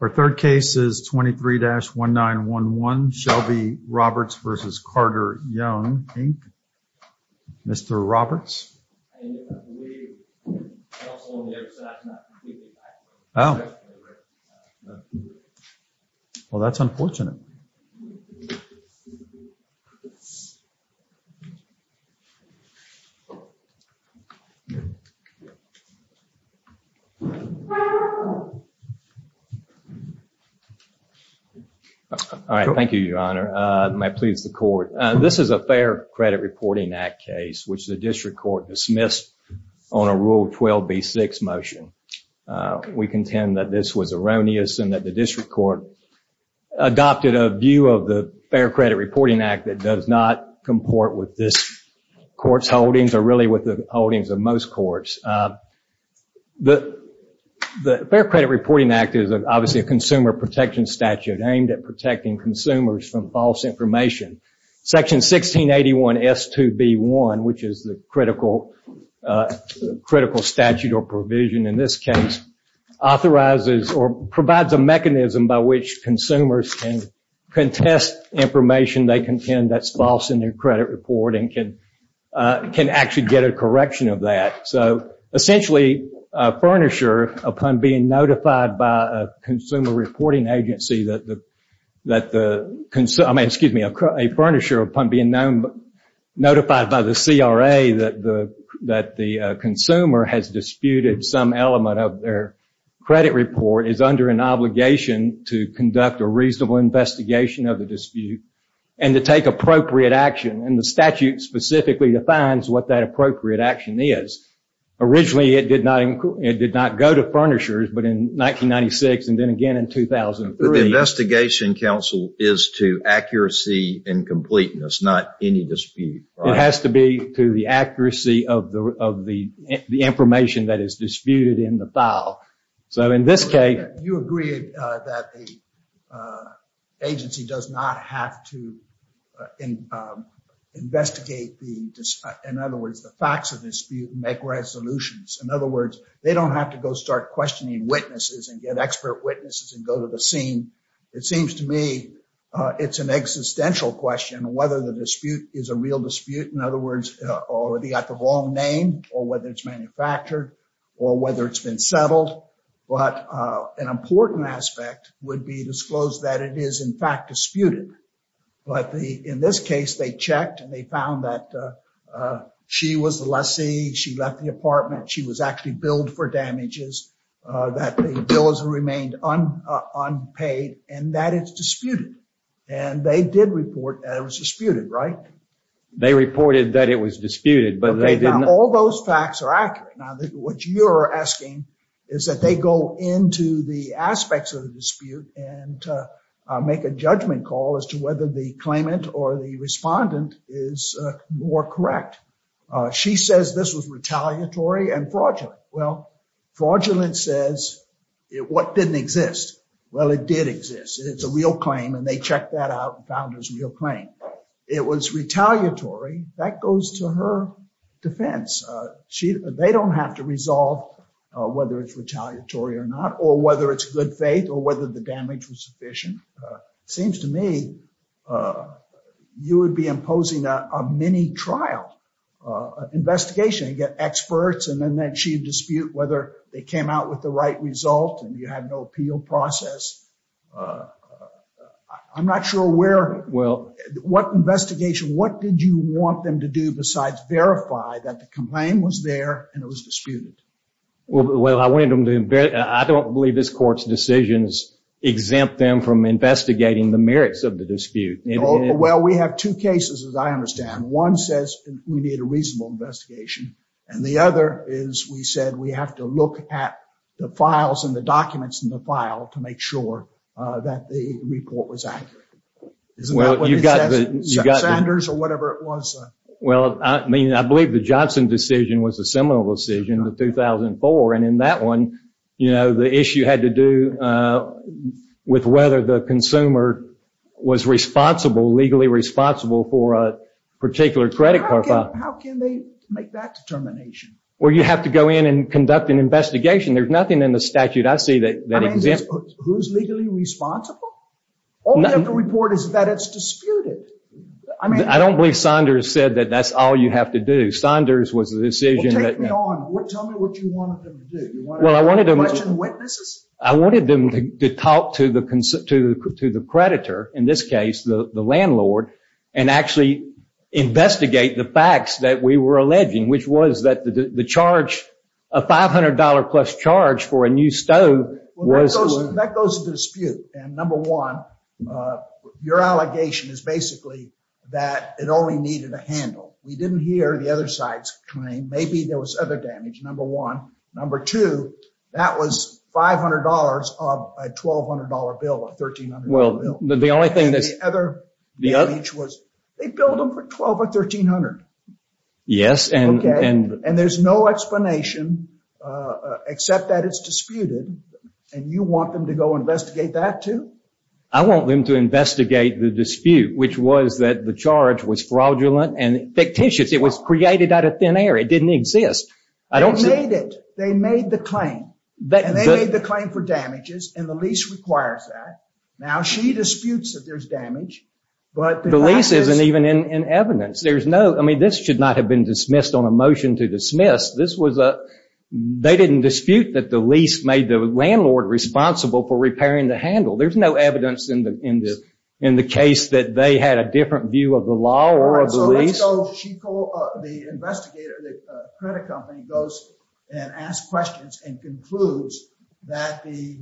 Our third case is 23-1911, Shelby Roberts v. Carter-Young, Inc. Mr. Roberts? I believe it's also on the other side. Oh. Well, that's unfortunate. All right. Thank you, Your Honor. May it please the court. This is a Fair Credit Reporting Act case, which the district court dismissed on a Rule 12b-6 motion. We contend that this was erroneous and that the district court adopted a view of the Fair Credit Reporting Act that does not comport with this court's holdings or really with the holdings of most courts. The Fair Credit Reporting Act is obviously a consumer protection statute aimed at protecting consumers from false information. Section 1681 S.2.B.1, which is the critical statute or provision in this case, authorizes or provides a mechanism by which consumers can contest information they contend that's false in their credit report and can actually get a correction of that. So, essentially, a furnisher, upon being notified by a consumer reporting agency, that the consumer, I mean, excuse me, a furnisher, upon being notified by the CRA that the consumer has disputed some element of their credit report is under an obligation to conduct a reasonable investigation of the dispute and to take appropriate action. And the statute specifically defines what that appropriate action is. Originally, it did not go to furnishers, but in 1996 and then again in 2003. The investigation counsel is to accuracy and completeness, not any dispute. It has to be to the accuracy of the information that is disputed in the file. You agree that the agency does not have to investigate, in other words, the facts of the dispute and make resolutions. In other words, they don't have to go start questioning witnesses and get expert witnesses and go to the scene. It seems to me it's an existential question whether the dispute is a real dispute. In other words, they got the wrong name or whether it's manufactured or whether it's been settled. But an important aspect would be disclosed that it is, in fact, disputed. But in this case, they checked and they found that she was the lessee. She left the apartment. She was actually billed for damages. That the bill has remained unpaid and that it's disputed. And they did report that it was disputed, right? They reported that it was disputed, but all those facts are accurate. Now, what you're asking is that they go into the aspects of the dispute and make a judgment call as to whether the claimant or the respondent is more correct. She says this was retaliatory and fraudulent. Well, fraudulent says what didn't exist. Well, it did exist. It's a real claim. And they checked that out. It was retaliatory. That goes to her defense. They don't have to resolve whether it's retaliatory or not or whether it's good faith or whether the damage was sufficient. Seems to me you would be imposing a mini trial investigation and get experts. And then she'd dispute whether they came out with the right result and you had no appeal process. I'm not sure where, what investigation, what did you want them to do besides verify that the complaint was there and it was disputed? Well, I don't believe this court's decisions exempt them from investigating the merits of the dispute. Well, we have two cases, as I understand. One says we need a reasonable investigation. And the other is we said we have to look at the files and the documents in the file to make sure that the report was accurate. Well, you've got the Sanders or whatever it was. Well, I mean, I believe the Johnson decision was a similar decision to 2004. And in that one, you know, the issue had to do with whether the consumer was responsible, legally responsible for a particular credit card. How can they make that determination? Well, you have to go in and conduct an investigation. There's nothing in the statute I see that exempts. Who's legally responsible? All we have to report is that it's disputed. I mean, I don't believe Saunders said that that's all you have to do. Saunders was the decision. Well, take me on. Tell me what you wanted them to do. You wanted to question witnesses? I wanted them to talk to the creditor, in this case, the landlord, and actually investigate the facts that we were alleging, which was that the charge, a $500 plus charge for a new stove. That goes to dispute. And number one, your allegation is basically that it only needed a handle. We didn't hear the other side's claim. Maybe there was other damage, number one. Number two, that was $500 of a $1,200 bill, a $1,300 bill. Well, the only thing that's... And the other damage was they billed them for $1,200 or $1,300. Yes, and... And there's no explanation except that it's disputed. And you want them to go investigate that, too? I want them to investigate the dispute, which was that the charge was fraudulent and fictitious. It was created out of thin air. It didn't exist. They made it. They made the claim. And they made the claim for damages, and the lease requires that. Now, she disputes that there's damage, but... The lease isn't even in evidence. I mean, this should not have been dismissed on a motion to dismiss. They didn't dispute that the lease made the landlord responsible for repairing the handle. There's no evidence in the case that they had a different view of the law or of the lease. All right, so let's go, the investigator, the credit company, goes and asks questions and concludes that the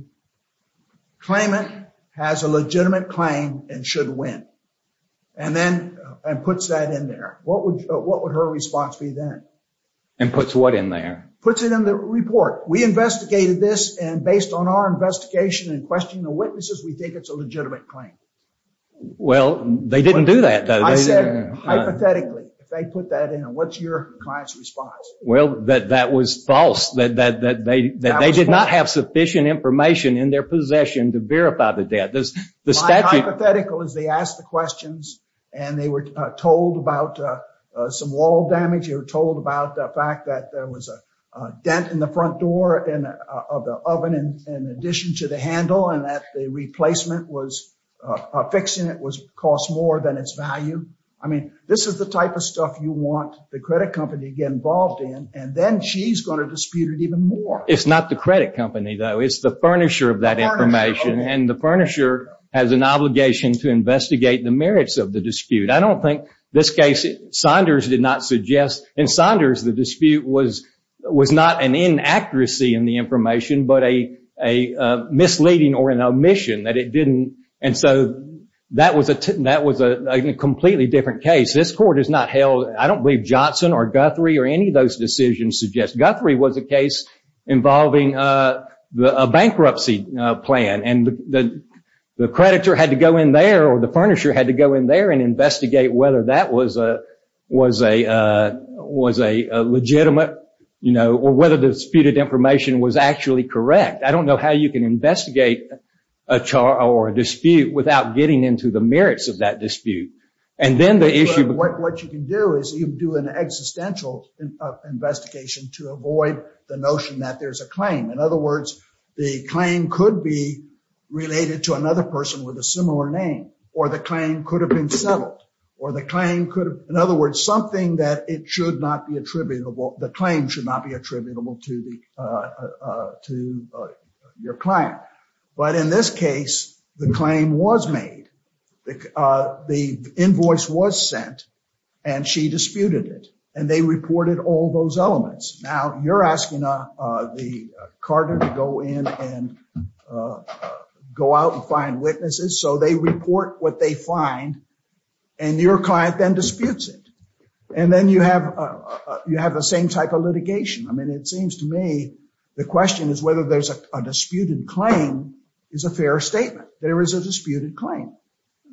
claimant has a legitimate claim and should win. And puts that in there. What would her response be then? And puts what in there? Puts it in the report. We investigated this, and based on our investigation and questioning the witnesses, we think it's a legitimate claim. Well, they didn't do that, though. I said, hypothetically, if they put that in, what's your client's response? Well, that that was false. That they did not have sufficient information in their possession to verify the debt. My hypothetical is they asked the questions and they were told about some wall damage. They were told about the fact that there was a dent in the front door of the oven in addition to the handle. And that the replacement fixing it cost more than its value. I mean, this is the type of stuff you want the credit company to get involved in. And then she's going to dispute it even more. It's not the credit company, though. It's the furnisher of that information. And the furnisher has an obligation to investigate the merits of the dispute. I don't think this case, Saunders did not suggest. In Saunders, the dispute was was not an inaccuracy in the information, but a misleading or an omission that it didn't. And so that was a that was a completely different case. This court is not held. I don't believe Johnson or Guthrie or any of those decisions suggest Guthrie was a case involving a bankruptcy plan. And the creditor had to go in there or the furnisher had to go in there and investigate whether that was a was a was a legitimate. You know, or whether the disputed information was actually correct. I don't know how you can investigate a char or a dispute without getting into the merits of that dispute. And then the issue of what you can do is you do an existential investigation to avoid the notion that there's a claim. In other words, the claim could be related to another person with a similar name or the claim could have been settled or the claim could. In other words, something that it should not be attributable. The claim should not be attributable to the to your client. But in this case, the claim was made. The invoice was sent and she disputed it and they reported all those elements. Now you're asking the card to go in and go out and find witnesses. So they report what they find and your client then disputes it. And then you have you have the same type of litigation. I mean, it seems to me the question is whether there's a disputed claim is a fair statement. There is a disputed claim.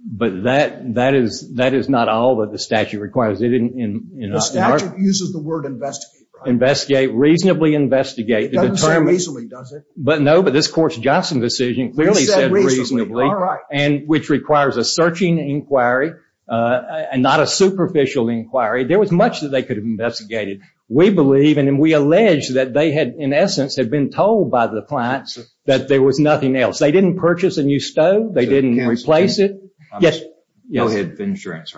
But that that is that is not all that the statute requires. The statute uses the word investigate, investigate, reasonably investigate. It doesn't say reasonably, does it? But no. But this course, Johnson decision clearly said reasonably. All right. And which requires a searching inquiry and not a superficial inquiry. There was much that they could have investigated. We believe and we allege that they had in essence had been told by the clients that there was nothing else. They didn't purchase a new stove. They didn't replace it. Yes. Yes.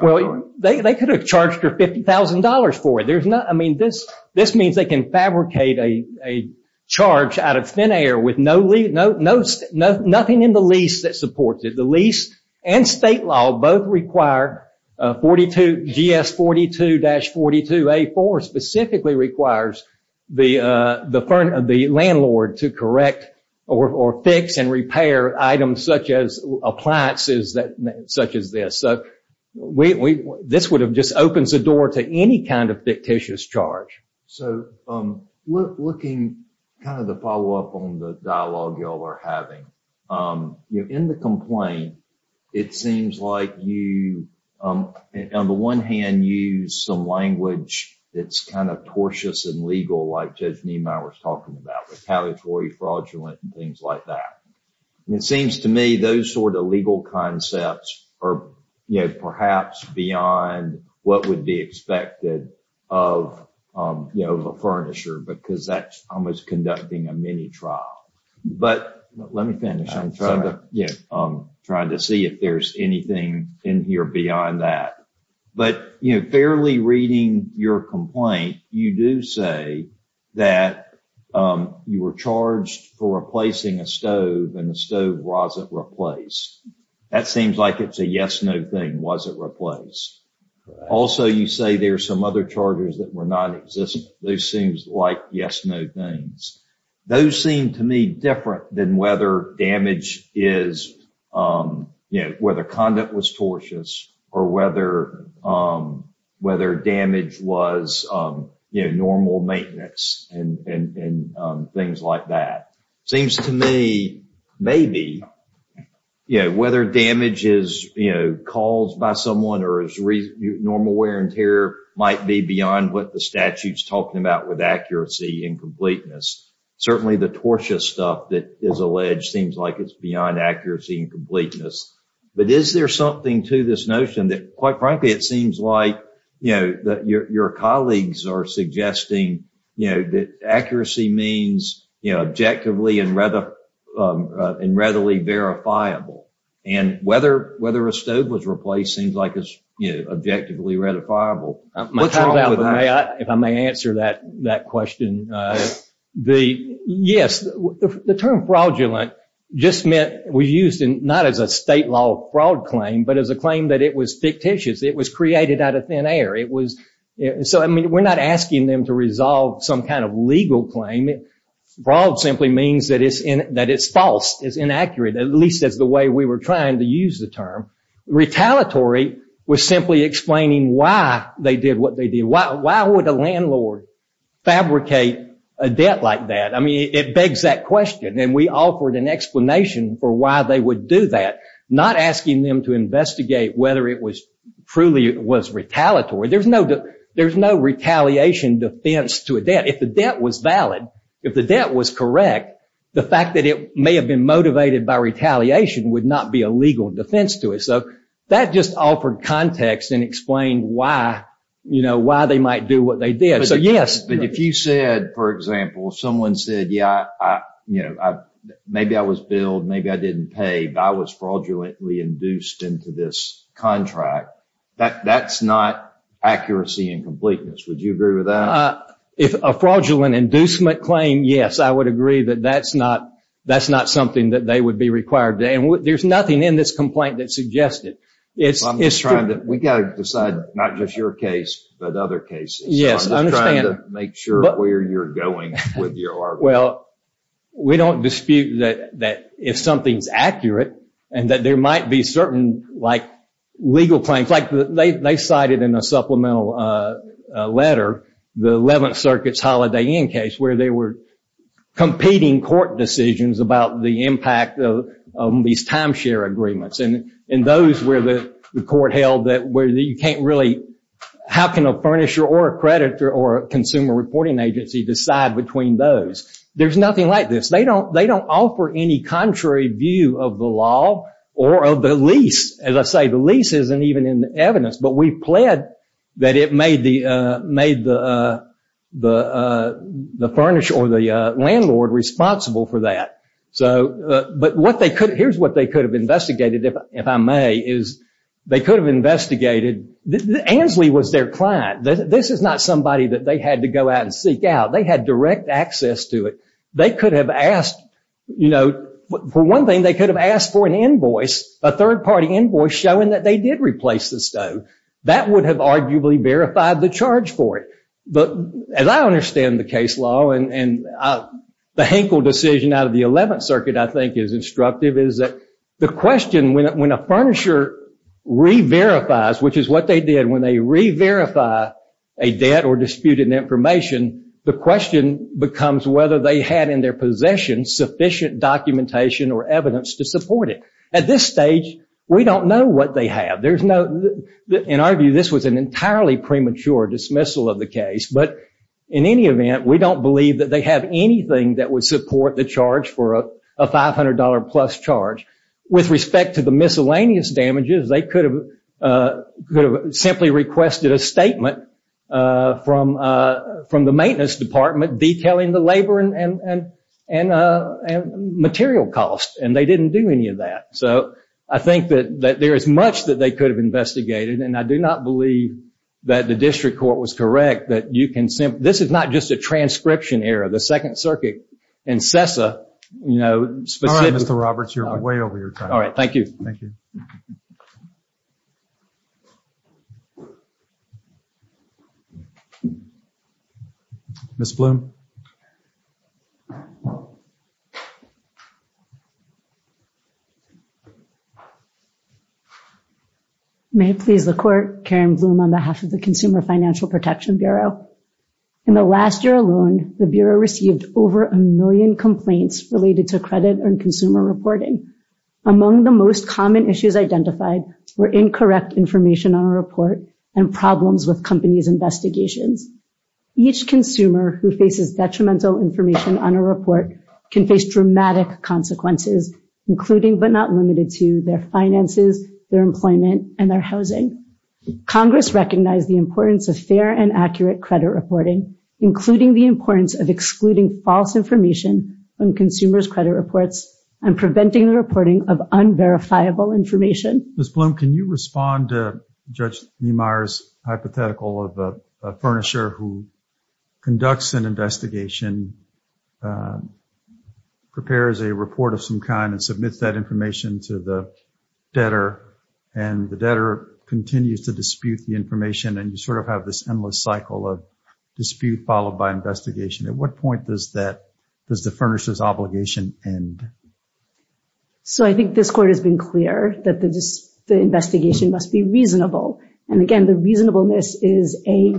Well, they could have charged her fifty thousand dollars for it. There's not. I mean, this this means they can fabricate a charge out of thin air with no lead. No, no, no, nothing in the lease that supports it. The lease and state law both require 42. G.S. 42 dash 42 a four specifically requires the the firm of the landlord to correct or fix and repair items such as appliances that such as this. So we this would have just opens the door to any kind of fictitious charge. So I'm looking kind of the follow up on the dialogue y'all are having in the complaint. It seems like you, on the one hand, use some language. It's kind of tortuous and legal, like Judge Niemeyer was talking about, retaliatory, fraudulent and things like that. It seems to me those sort of legal concepts are perhaps beyond what would be expected of a furnisher, because that's almost conducting a mini trial. But let me finish. I'm trying to, you know, I'm trying to see if there's anything in here beyond that. But, you know, fairly reading your complaint, you do say that you were charged for replacing a stove and a stove was replaced. That seems like it's a yes, no thing. Was it replaced? Also, you say there are some other charges that were not existing. Those seems like yes, no things. Those seem to me different than whether damage is, you know, whether conduct was tortious or whether whether damage was, you know, normal maintenance and things like that. Seems to me, maybe, you know, whether damage is, you know, caused by someone or is normal wear and tear might be beyond what the statute's talking about with accuracy and completeness. Certainly, the tortuous stuff that is alleged seems like it's beyond accuracy and completeness. But is there something to this notion that, quite frankly, it seems like, you know, that your colleagues are suggesting, you know, that accuracy means, you know, objectively and readily verifiable. And whether a stove was replaced seems like it's, you know, objectively verifiable. If I may answer that question, the yes, the term fraudulent just meant we used not as a state law fraud claim, but as a claim that it was fictitious. It was created out of thin air. It was. So, I mean, we're not asking them to resolve some kind of legal claim. Fraud simply means that it's false, it's inaccurate, at least as the way we were trying to use the term. Retaliatory was simply explaining why they did what they did. Why would a landlord fabricate a debt like that? I mean, it begs that question. And we offered an explanation for why they would do that, not asking them to investigate whether it was truly was retaliatory. There's no there's no retaliation defense to a debt. If the debt was valid, if the debt was correct, the fact that it may have been motivated by retaliation would not be a legal defense to it. So that just offered context and explained why, you know, why they might do what they did. So, yes, if you said, for example, someone said, yeah, you know, maybe I was billed, maybe I didn't pay. If I was fraudulently induced into this contract, that that's not accuracy and completeness. Would you agree with that? If a fraudulent inducement claim, yes, I would agree that that's not that's not something that they would be required to. And there's nothing in this complaint that suggested it's trying that we got to decide not just your case, but other cases. Yes, I understand. Make sure where you're going with your. Well, we don't dispute that that if something's accurate and that there might be certain like legal claims like they cited in a supplemental letter, the 11th Circuit's Holiday Inn case where they were competing court decisions about the impact of these timeshare agreements. And in those where the court held that where you can't really. How can a furnisher or a creditor or a consumer reporting agency decide between those? There's nothing like this. They don't they don't offer any contrary view of the law or of the lease. As I say, the lease isn't even in the evidence. But we pled that it made the made the the the furnish or the landlord responsible for that. So but what they could here's what they could have investigated, if I may, is they could have investigated. Ansley was their client. This is not somebody that they had to go out and seek out. They had direct access to it. They could have asked, you know, for one thing, they could have asked for an invoice, a third party invoice showing that they did replace the stone that would have arguably verified the charge for it. But as I understand the case law and the Hinkle decision out of the 11th Circuit, I think is instructive is that the question when a furnisher re-verifies, which is what they did when they re-verify a debt or disputed information. The question becomes whether they had in their possession sufficient documentation or evidence to support it. At this stage, we don't know what they have. There's no in our view, this was an entirely premature dismissal of the case. But in any event, we don't believe that they have anything that would support the charge for a five hundred dollar plus charge. With respect to the miscellaneous damages, they could have simply requested a statement from from the maintenance department, detailing the labor and and and material costs. And they didn't do any of that. So I think that there is much that they could have investigated. And I do not believe that the district court was correct that you can say this is not just a transcription error. The Second Circuit and CESA, you know, Mr. Roberts, you're way over your time. All right. Thank you. Thank you. Ms. Blum. May it please the court, Karen Blum on behalf of the Consumer Financial Protection Bureau. In the last year alone, the Bureau received over a million complaints related to credit and consumer reporting. Among the most common issues identified were incorrect information on a report and problems with companies investigations. Each consumer who faces detrimental information on a report can face dramatic consequences, including but not limited to their finances, their employment and their housing. Congress recognized the importance of fair and accurate credit reporting, including the importance of excluding false information on consumers credit reports and preventing the reporting of unverifiable information. Ms. Blum, can you respond to Judge Meemeyer's hypothetical of a furnisher who conducts an investigation, prepares a report of some kind and submits that information to the debtor and the debtor continues to dispute the information. And you sort of have this endless cycle of dispute followed by investigation. At what point does the furnisher's obligation end? So I think this court has been clear that the investigation must be reasonable. And again, the reasonableness is a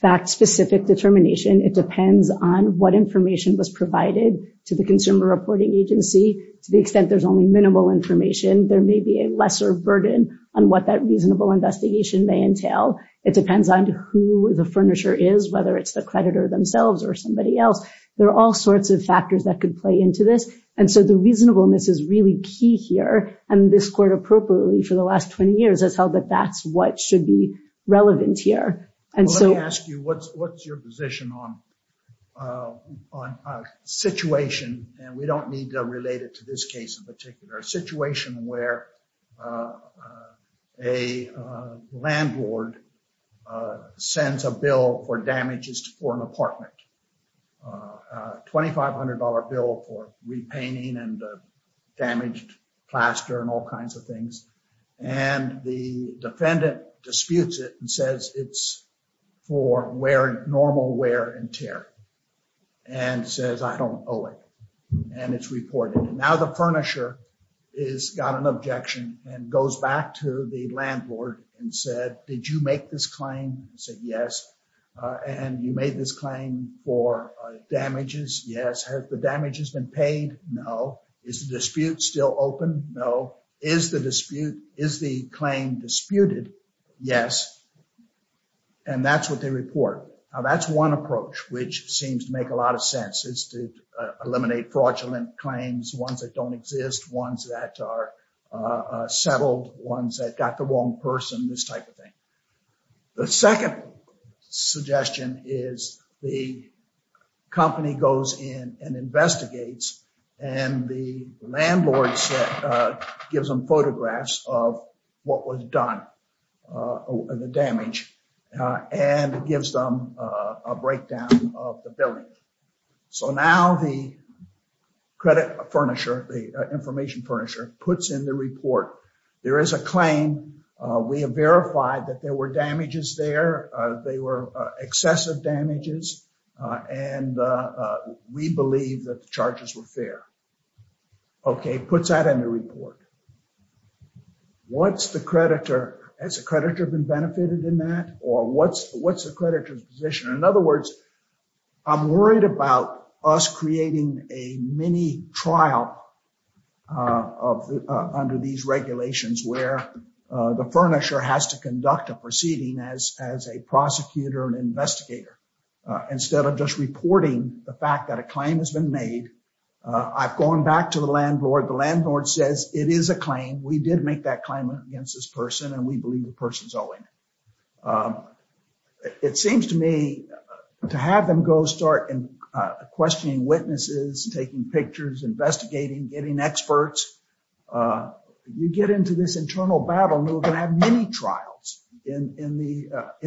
fact-specific determination. It depends on what information was provided to the consumer reporting agency. To the extent there's only minimal information, there may be a lesser burden on what that reasonable investigation may entail. It depends on who the furnisher is, whether it's the creditor themselves or somebody else. There are all sorts of factors that could play into this. And so the reasonableness is really key here. And this court appropriately for the last 20 years has held that that's what should be relevant here. Let me ask you, what's your position on a situation, and we don't need to relate it to this case in particular, a situation where a landlord sends a bill for damages for an apartment, a $2,500 bill for repainting and damaged plaster and all kinds of things. And the defendant disputes it and says it's for wear, normal wear and tear. And says, I don't owe it. And it's reported. Now the furnisher has got an objection and goes back to the landlord and said, did you make this claim? He said, yes. And you made this claim for damages? Yes. Has the damages been paid? No. Is the dispute still open? No. Is the dispute, is the claim disputed? Yes. And that's what they report. Now that's one approach which seems to make a lot of sense is to eliminate fraudulent claims, ones that don't exist, ones that are settled, ones that got the wrong person, this type of thing. The second suggestion is the company goes in and investigates, and the landlord gives them photographs of what was done, the damage, and gives them a breakdown of the building. So now the credit furnisher, the information furnisher, puts in the report. There is a claim. We have verified that there were damages there. They were excessive damages. And we believe that the charges were fair. Okay. Puts that in the report. What's the creditor? Has the creditor been benefited in that? Or what's the creditor's position? In other words, I'm worried about us creating a mini trial under these regulations where the furnisher has to conduct a proceeding as a prosecutor and investigator instead of just reporting the fact that a claim has been made. I've gone back to the landlord. The landlord says it is a claim. We did make that claim against this person, and we believe the person's owing it. It seems to me to have them go start questioning witnesses, taking pictures, investigating, getting experts, you get into this internal battle and we're going to have mini trials in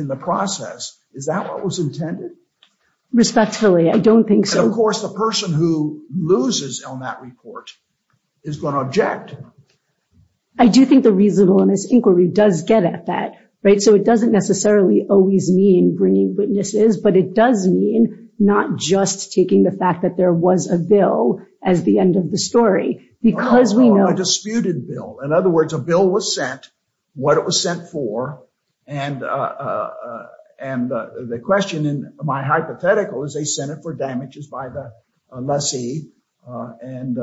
the process. Is that what was intended? Respectfully, I don't think so. And, of course, the person who loses on that report is going to object. I do think the reasonableness inquiry does get at that, right? So it doesn't necessarily always mean bringing witnesses, but it does mean not just taking the fact that there was a bill as the end of the story. A disputed bill. In other words, a bill was sent, what it was sent for, and the question in my hypothetical is they sent it for damages by the lessee and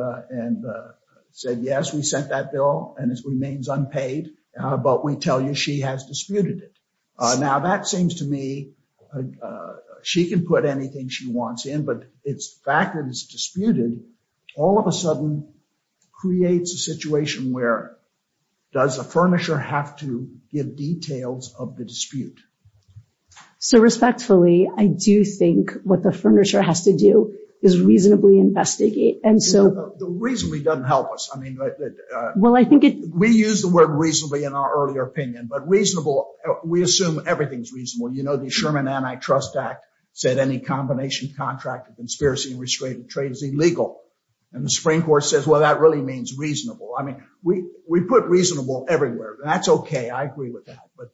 said, yes, we sent that bill and it remains unpaid, but we tell you she has disputed it. Now, that seems to me she can put anything she wants in, but it's the fact that it's disputed all of a sudden creates a situation where does the furnisher have to give details of the dispute? So, respectfully, I do think what the furnisher has to do is reasonably investigate. The reasonably doesn't help us. We use the word reasonably in our earlier opinion, but reasonable, we assume everything's reasonable. You know the Sherman Antitrust Act said any combination contract of conspiracy and restricted trade is illegal. And the Supreme Court says, well, that really means reasonable. I mean, we put reasonable everywhere. That's okay. I agree with that. But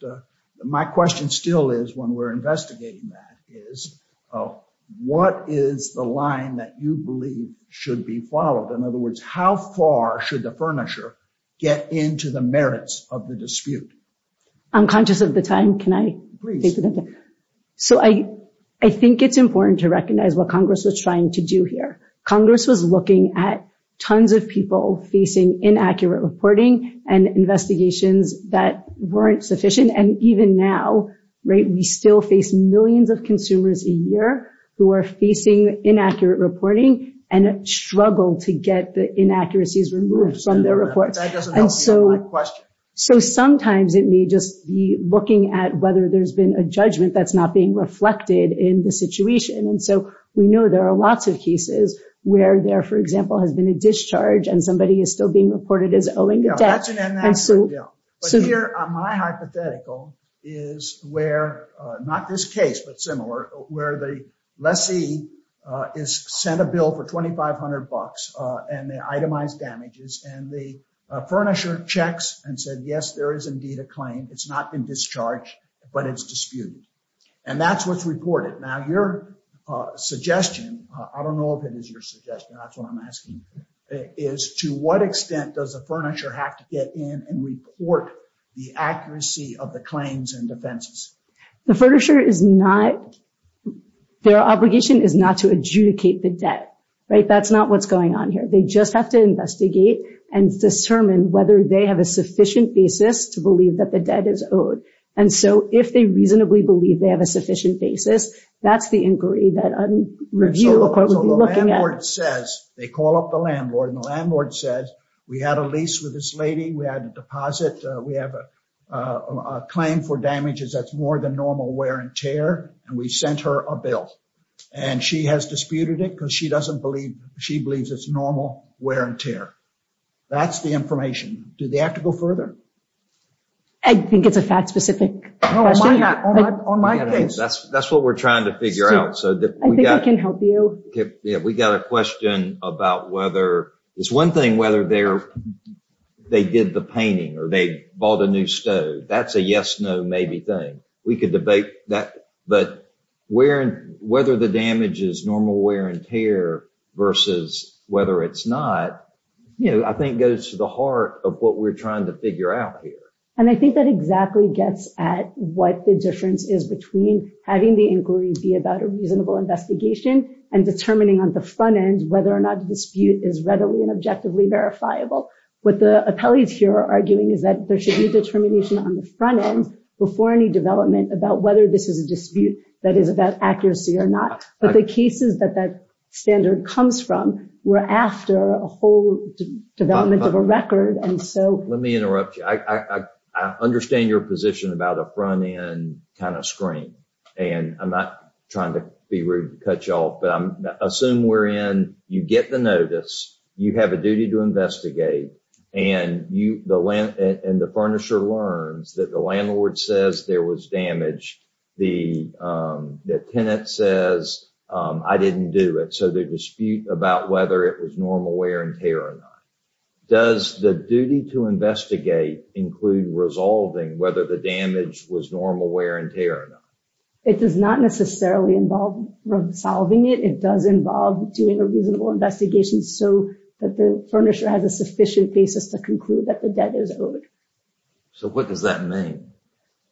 my question still is when we're investigating that is what is the line that you believe should be followed? In other words, how far should the furnisher get into the merits of the dispute? I'm conscious of the time. Can I take the time? So, I think it's important to recognize what Congress was trying to do here. Congress was looking at tons of people facing inaccurate reporting and investigations that weren't sufficient. And even now, right, we still face millions of consumers a year who are facing inaccurate reporting and struggle to get the inaccuracies removed from their reports. That doesn't help me with my question. So, sometimes it may just be looking at whether there's been a judgment that's not being reflected in the situation. And so, we know there are lots of cases where there, for example, has been a discharge and somebody is still being reported as owing a debt. That's an inaccurate bill. But here, my hypothetical is where, not this case, but similar, where the lessee is sent a bill for $2,500 and they itemize damages and the furnisher checks and said, yes, there is indeed a claim. It's not been discharged, but it's disputed. And that's what's reported. Now, your suggestion, I don't know if it is your suggestion, that's what I'm asking, is to what extent does a furnisher have to get in and report the accuracy of the claims and defenses? The furnisher is not – their obligation is not to adjudicate the debt. Right? That's not what's going on here. They just have to investigate and determine whether they have a sufficient basis to believe that the debt is owed. And so, if they reasonably believe they have a sufficient basis, that's the inquiry that a review court would be looking at. So, the landlord says, they call up the landlord, and the landlord says, we had a lease with this lady, we had a deposit, we have a claim for damages that's more than normal wear and tear, and we sent her a bill. And she has disputed it because she doesn't believe – she believes it's normal wear and tear. That's the information. Do they have to go further? I think it's a fact-specific question. On my case. That's what we're trying to figure out. I think I can help you. We got a question about whether – it's one thing whether they did the painting or they bought a new stove. That's a yes, no, maybe thing. We could debate that. But whether the damage is normal wear and tear versus whether it's not, I think goes to the heart of what we're trying to figure out here. And I think that exactly gets at what the difference is between having the inquiry be about a reasonable investigation and determining on the front end whether or not the dispute is readily and objectively verifiable. What the appellees here are arguing is that there should be determination on the front end before any development about whether this is a dispute that is about accuracy or not. But the cases that that standard comes from were after a whole development of a record. Let me interrupt you. I understand your position about a front-end kind of screen. I'm not trying to be rude and cut you off. Assume you get the notice, you have a duty to investigate, and the furnisher learns that the landlord says there was damage. The tenant says, I didn't do it. So they dispute about whether it was normal wear and tear or not. Does the duty to investigate include resolving whether the damage was normal wear and tear or not? It does not necessarily involve resolving it. It does involve doing a reasonable investigation so that the furnisher has a sufficient basis to conclude that the debt is owed. So what does that mean?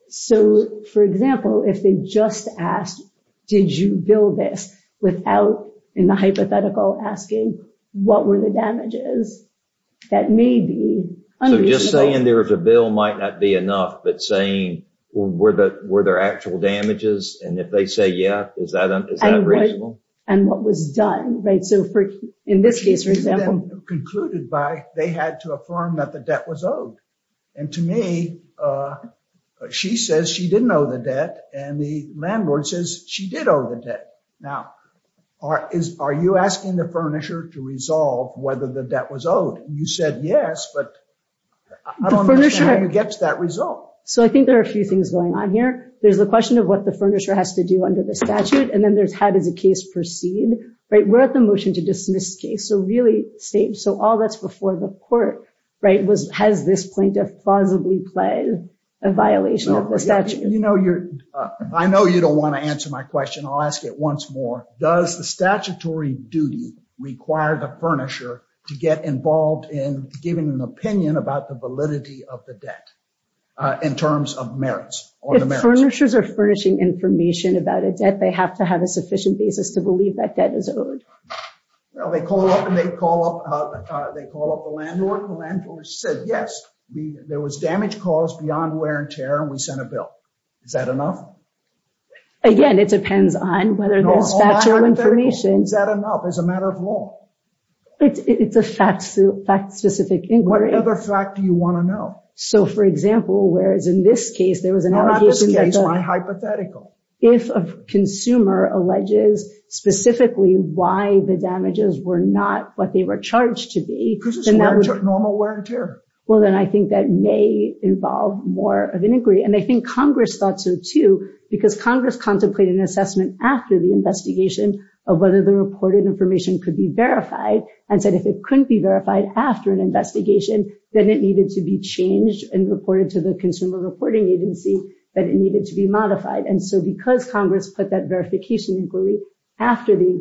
So, for example, if they just asked, did you bill this, without in the hypothetical asking what were the damages, that may be unreasonable. So just saying there was a bill might not be enough, but saying were there actual damages, and if they say yes, is that reasonable? And what was done, right? So in this case, for example. Concluded by they had to affirm that the debt was owed. And to me, she says she didn't owe the debt, and the landlord says she did owe the debt. Now, are you asking the furnisher to resolve whether the debt was owed? You said yes, but I don't understand how you get to that result. So I think there are a few things going on here. There's the question of what the furnisher has to do under the statute, and then there's how does the case proceed, right? We're at the motion to dismiss case. So really, so all that's before the court, right, has this plaintiff plausibly pled a violation of the statute? I know you don't want to answer my question. I'll ask it once more. Now, does the statutory duty require the furnisher to get involved in giving an opinion about the validity of the debt in terms of merits? If furnishers are furnishing information about a debt, they have to have a sufficient basis to believe that debt is owed. Well, they call up the landlord. The landlord said, yes, there was damage caused beyond wear and tear, and we sent a bill. Is that enough? Again, it depends on whether there's factual information. Is that enough as a matter of law? It's a fact-specific inquiry. What other fact do you want to know? So, for example, whereas in this case there was an allegation that the— Not this case. Hypothetical. If a consumer alleges specifically why the damages were not what they were charged to be, then that would— Because it's normal wear and tear. Well, then I think that may involve more of an inquiry, and I think Congress thought so, too, because Congress contemplated an assessment after the investigation of whether the reported information could be verified and said if it couldn't be verified after an investigation, then it needed to be changed and reported to the Consumer Reporting Agency that it needed to be modified. And so because Congress put that verification inquiry after the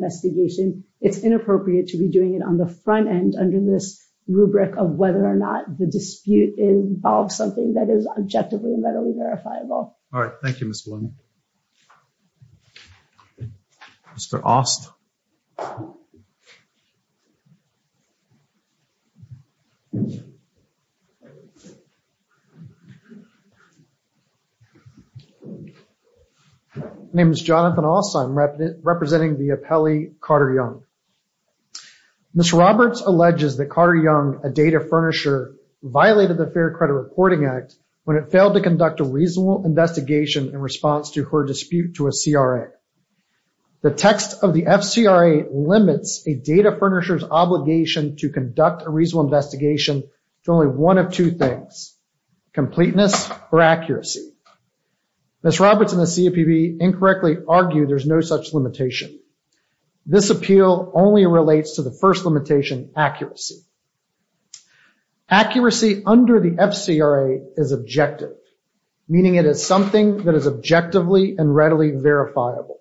it's inappropriate to be doing it on the front end under this rubric of whether or not the dispute involves something that is objectively and medically verifiable. All right. Thank you, Ms. Blumen. Mr. Aust. My name is Jonathan Aust. I'm representing the appellee Carter Young. Mr. Roberts alleges that Carter Young, a data furnisher, violated the Fair Credit Reporting Act when it failed to conduct a reasonable investigation in response to her dispute to a CRA. The text of the FCRA limits a data furnisher's obligation to conduct a reasonable investigation to only one of two things, completeness or accuracy. Ms. Roberts and the CFPB incorrectly argue there's no such limitation. This appeal only relates to the first limitation, accuracy. Accuracy under the FCRA is objective, meaning it is something that is objectively and readily verifiable.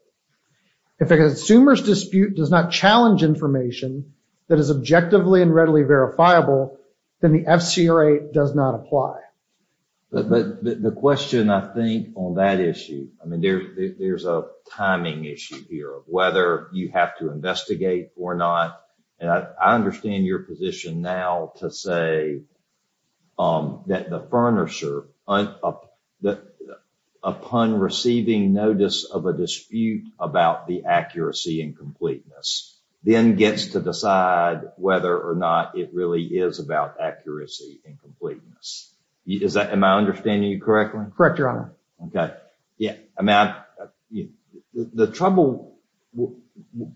If a consumer's dispute does not challenge information that is objectively and readily verifiable, then the FCRA does not apply. But the question, I think, on that issue, I mean, there's a timing issue here of whether you have to investigate or not. And I understand your position now to say that the furnisher, upon receiving notice of a dispute about the accuracy and completeness, then gets to decide whether or not it really is about accuracy and completeness. Is that, am I understanding you correctly? Correct, Your Honor. Okay. Yeah. I mean, the trouble,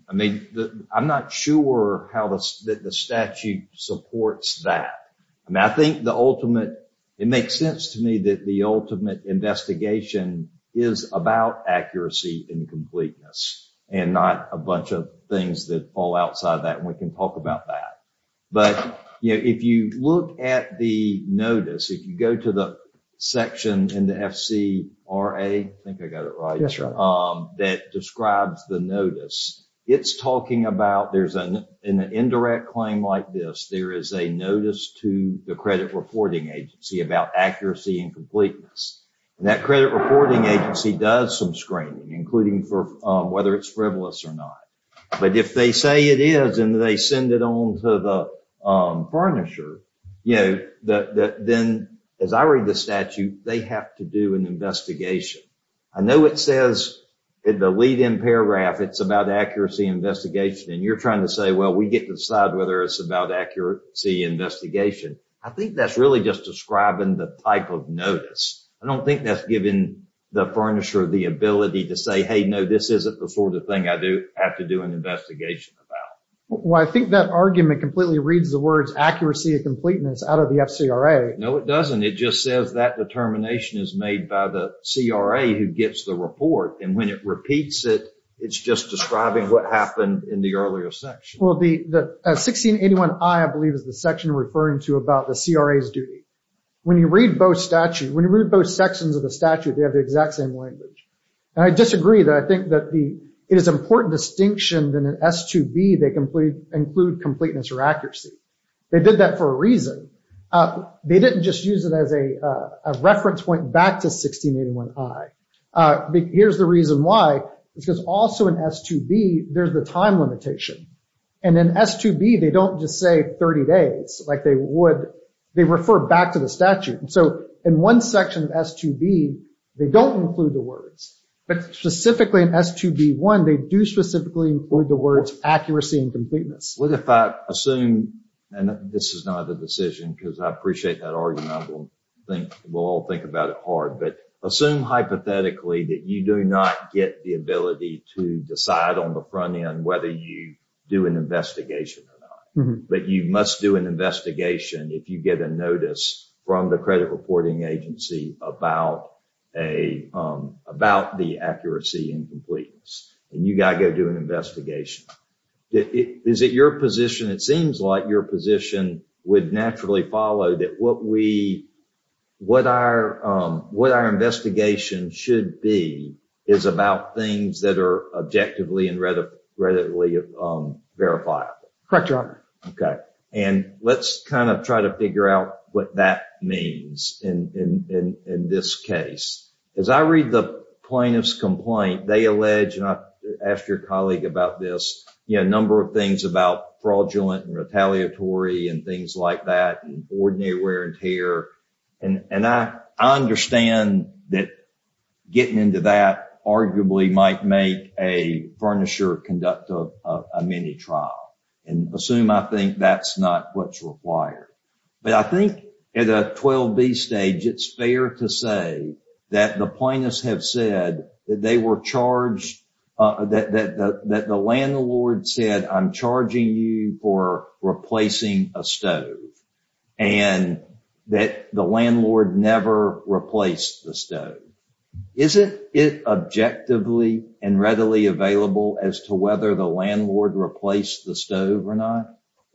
I mean, I'm not sure how the statute supports that. I mean, I think the ultimate, it makes sense to me that the ultimate investigation is about accuracy and completeness and not a bunch of things that fall outside of that. And we can talk about that. But, you know, if you look at the notice, if you go to the section in the FCRA, I think I got it right, that describes the notice. It's talking about, there's an indirect claim like this. There is a notice to the credit reporting agency about accuracy and completeness. And that credit reporting agency does some screening, including for whether it's frivolous or not. But if they say it is and they send it on to the furnisher, you know, then as I read the statute, they have to do an investigation. I know it says in the lead in paragraph, it's about accuracy investigation and you're trying to say, well, we get to decide whether it's about accuracy investigation. I think that's really just describing the type of notice. I don't think that's given the furnisher the ability to say, Hey, no, this isn't before the thing I do have to do an investigation about. Well, I think that argument completely reads the words accuracy and completeness out of the FCRA. No, it doesn't. It just says that determination is made by the CRA who gets the report. And when it repeats it, it's just describing what happened in the earlier section. Well, the 1681I, I believe, is the section referring to about the CRA's duty. When you read both statute, when you read both sections of the statute, they have the exact same language. And I disagree that I think that the, it is important distinction than an S2B they include completeness or accuracy. They did that for a reason. They didn't just use it as a, a reference point back to 1681I. Here's the reason why is because also in S2B, there's the time limitation and then S2B, they don't just say 30 days like they would, they refer back to the statute. And so in one section of S2B, they don't include the words, but specifically in S2B1, they do specifically include the words accuracy and completeness. What if I assume, and this is not a decision, because I appreciate that argument. I will think, we'll all think about it hard, but assume hypothetically that you do not get the ability to decide on the front end, whether you do an investigation or not, but you must do an investigation. If you get a notice from the credit reporting agency about a, about the accuracy and completeness and you got to go do an investigation. Is it your position? It seems like your position would naturally follow that what we, what our, what our investigation should be is about things that are objectively and readily verifiable. Correct Your Honor. Okay. And let's kind of try to figure out what that means in this case. As I read the plaintiff's complaint, they allege, and I asked your colleague about this, you know, a number of things about fraudulent and retaliatory and things like that and ordinary wear and tear. And I understand that getting into that arguably might make a furnisher conduct a mini trial and assume I think that's not what's required. But I think at a 12B stage, it's fair to say that the plaintiffs have said that they were charged that the landlord said, I'm charging you for replacing a stove and that the landlord never replaced the stove. Is it objectively and readily available as to whether the landlord replaced the stove or not?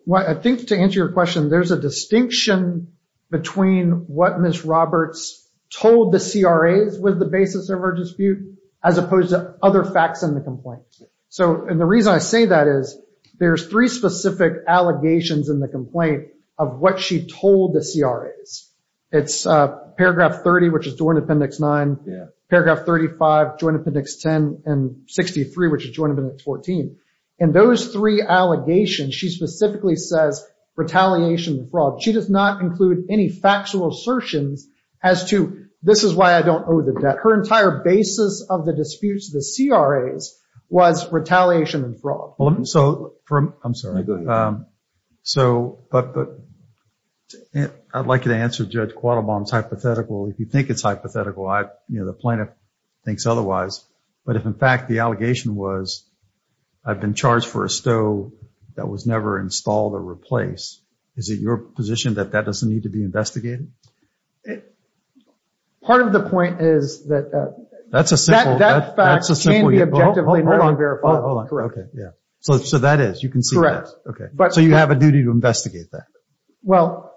Well, I think to answer your question, there's a distinction between what Ms. Roberts told the CRAs was the basis of our dispute as opposed to other facts in the complaint. So, and the reason I say that is there's three specific allegations in the complaint of what she told the CRAs. It's paragraph 30, which is joint appendix nine, paragraph 35, joint appendix 10 and 63, which is joint appendix 14. And those three allegations she specifically says retaliation and fraud. She does not include any factual assertions as to this is why I don't owe the debt. Her entire basis of the disputes, the CRAs was retaliation and fraud. So I'm sorry. So, but I'd like you to answer Judge Quattlebaum's hypothetical. If you think it's hypothetical, I, you know, the plaintiff thinks otherwise, but if in fact the allegation was I've been charged for a stove that was never installed or replaced, is it your position that that doesn't need to be investigated? Part of the point is that that's a simple, that's a simple. Okay. Yeah. So, so that is, you can see that. Okay. But so you have a duty to investigate that. Well,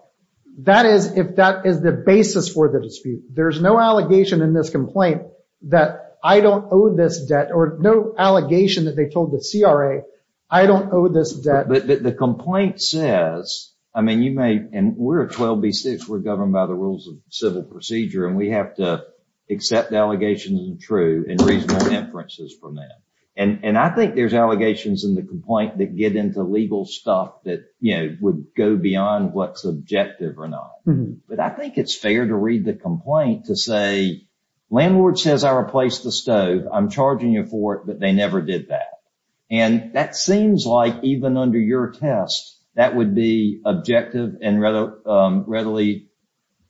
that is, if that is the basis for the dispute, there's no allegation in this complaint that I don't owe this debt or no allegation that they told the CRA, I don't owe this debt. But the complaint says, I mean, you may, and we're a 12B6 we're governed by the rules of civil procedure and we have to accept the allegations and true and reasonable inferences from that. And I think there's allegations in the complaint that get into legal stuff that, you know, would go beyond what's objective or not. But I think it's fair to read the complaint to say, landlord says I replaced the stove. I'm charging you for it, but they never did that. And that seems like even under your test, that would be objective and readily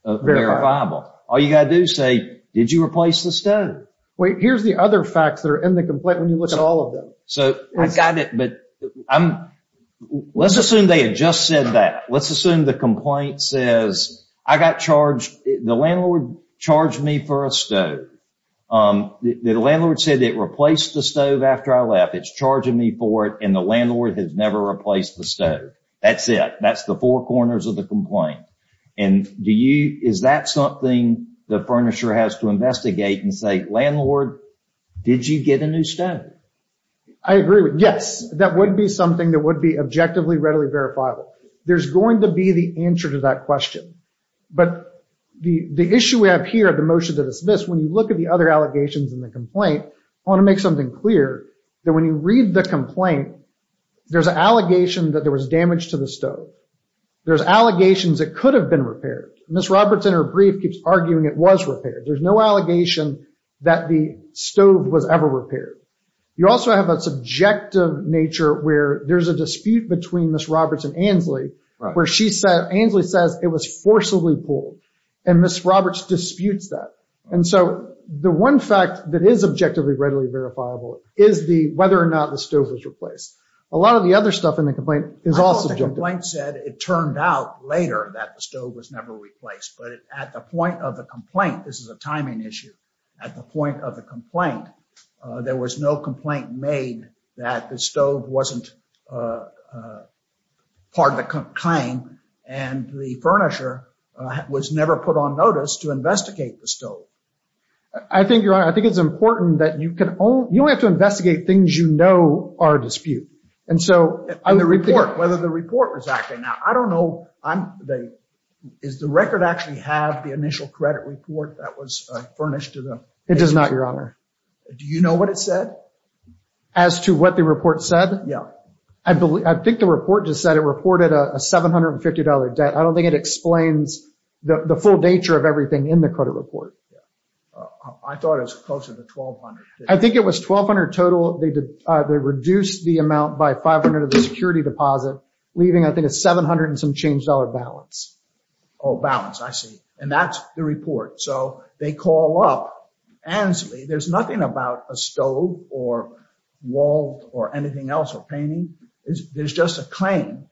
verifiable. All you got to do is say, did you replace the stove? Wait, here's the other facts that are in the complaint. When you look at all of them. So I got it, but let's assume they had just said that. Let's assume the complaint says I got charged. The landlord charged me for a stove. The landlord said it replaced the stove after I left. It's charging me for it. And the landlord has never replaced the stove. That's it. That's the four corners of the complaint. And do you, is that something the furnisher has to investigate and say, landlord, did you get a new stove? I agree with, yes, that would be something that would be objectively readily verifiable. There's going to be the answer to that question. But the issue we have here at the motion to dismiss, when you look at the other allegations in the complaint, I want to make something clear that when you read the complaint, there's an allegation that there was damage to the stove. There's allegations that could have been repaired. Ms. Robertson, her brief keeps arguing it was repaired. There's no allegation that the stove was ever repaired. You also have a subjective nature where there's a dispute between Ms. Robertson and Ms. Ainsley where she said, Ainsley says it was forcibly pulled. And Ms. Roberts disputes that. And so the one fact that is objectively readily verifiable is the, whether or not the stove was replaced. A lot of the other stuff in the complaint is all subjective. The complaint said it turned out later that the stove was never replaced, but at the point of the complaint, this is a timing issue. At the point of the complaint, there was no complaint made that the stove wasn't part of the claim. And the furnisher was never put on notice to investigate the stove. I think you're right. I think it's important that you can only, you only have to investigate things you know are a dispute. And so on the report, whether the report was acting. I don't know. Is the record actually have the initial credit report that was furnished to them? It does not, Your Honor. Do you know what it said? As to what the report said? Yeah. I think the report just said it reported a $750 debt. I don't think it explains the full nature of everything in the credit report. I thought it was closer to 1,200. I think it was 1,200 total. They reduced the amount by 500 of the security deposit leaving. I think it's 700 and some change dollar balance. Oh, balance. I see. And that's the report. So they call up Ansley. There's nothing about a stove or wall or anything else or painting. There's just a claim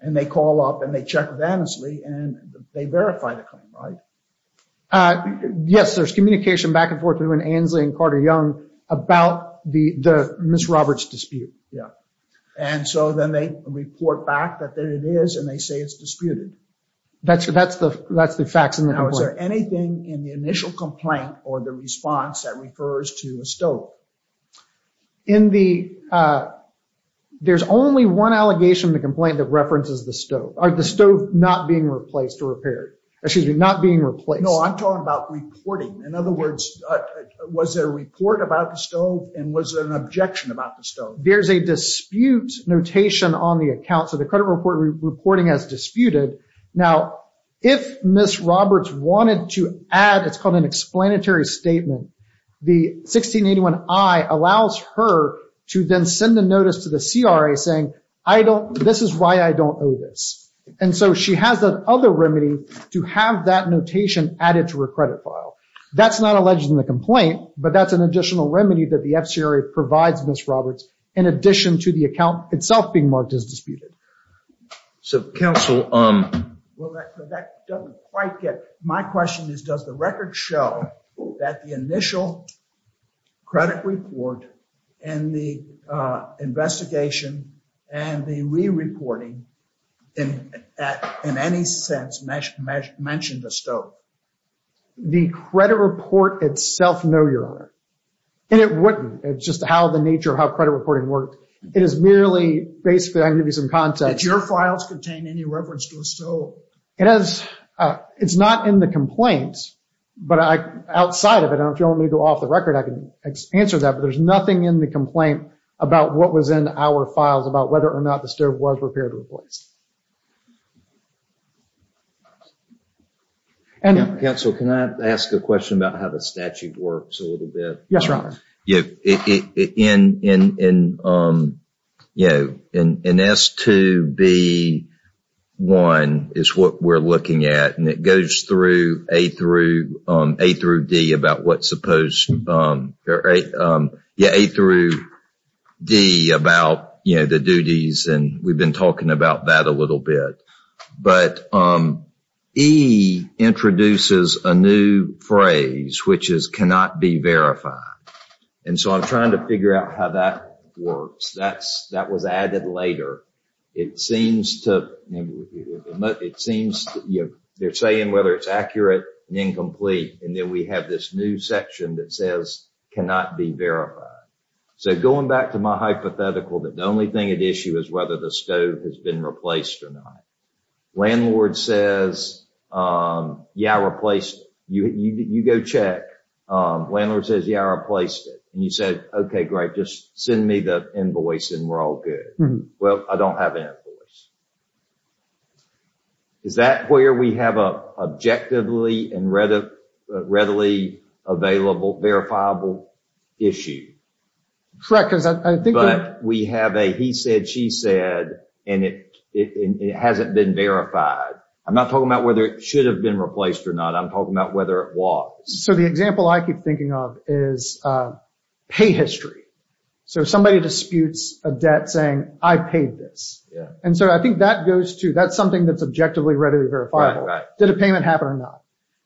and they call up and they check with Ansley and they verify the claim, right? Yes, there's communication back and forth between Ansley and Carter Young about the Ms. Roberts dispute. Yeah. And so then they report back that it is and they say it's disputed. That's the facts in the report. Now, is there anything in the initial complaint or the response that refers to a stove? There's only one allegation of the complaint that references the stove. The stove not being replaced or repaired. Excuse me, not being replaced. No, I'm talking about reporting. In other words, was there a report about the stove and was there an objection about the stove? There's a dispute notation on the account. So the credit report reporting as disputed. Now, if Ms. Roberts wanted to add, it's called an explanatory statement. The 1681 I allows her to then send a notice to the CRA saying, I don't, this is why I don't know this. And so she has that other remedy to have that notation added to her credit file. That's not alleged in the complaint, but that's an additional remedy that the FCRA provides Ms. Roberts in addition to the account itself being marked as disputed. So counsel, um, well, that doesn't quite get, my question is, does the record show that the initial credit report and the, uh, investigation and the re-reporting in, at, in any sense mentioned the stove? The credit report itself, no, Your Honor. And it wouldn't. It's just how the nature of how credit reporting worked. It is merely basically, I can give you some context. Did your files contain any reference to a stove? It has, uh, it's not in the complaint, but I, outside of it, if you want me to go off the record, I can answer that, but there's nothing in the complaint about what was in our files about whether or not the stove was repaired or replaced. And counsel, can I ask a question about how the statute works a little bit? Yes, Your Honor. Yeah. In, in, in, um, you know, in, in S2B1 is what we're looking at and it goes through A through, um, A through D about what's supposed, um, yeah, A through D about, you know, the duties. And we've been talking about that a little bit, but, um, E introduces a new phrase, which is cannot be verified. And so I'm trying to figure out how that works. That's, that was added later. It seems to, it seems, you know, they're saying whether it's accurate and incomplete. And then we have this new section that says cannot be verified. So going back to my hypothetical, that the only thing at issue is whether the stove has been replaced or not. Landlord says, um, yeah, I replaced it. You, you, you go check. Um, landlord says, yeah, I replaced it. And you said, okay, great. Just send me the invoice and we're all good. Well, I don't have an invoice. Is that where we have a objectively and readily, readily available verifiable issue? Correct. Because I think we have a, he said, she said, and it, it hasn't been verified. I'm not talking about whether it should have been replaced or not. I'm talking about whether it was. So the example I keep thinking of is, uh, pay history. So somebody disputes a debt saying I paid this. And so I think that goes to, that's something that's objectively readily verifiable. Did a payment happen or not?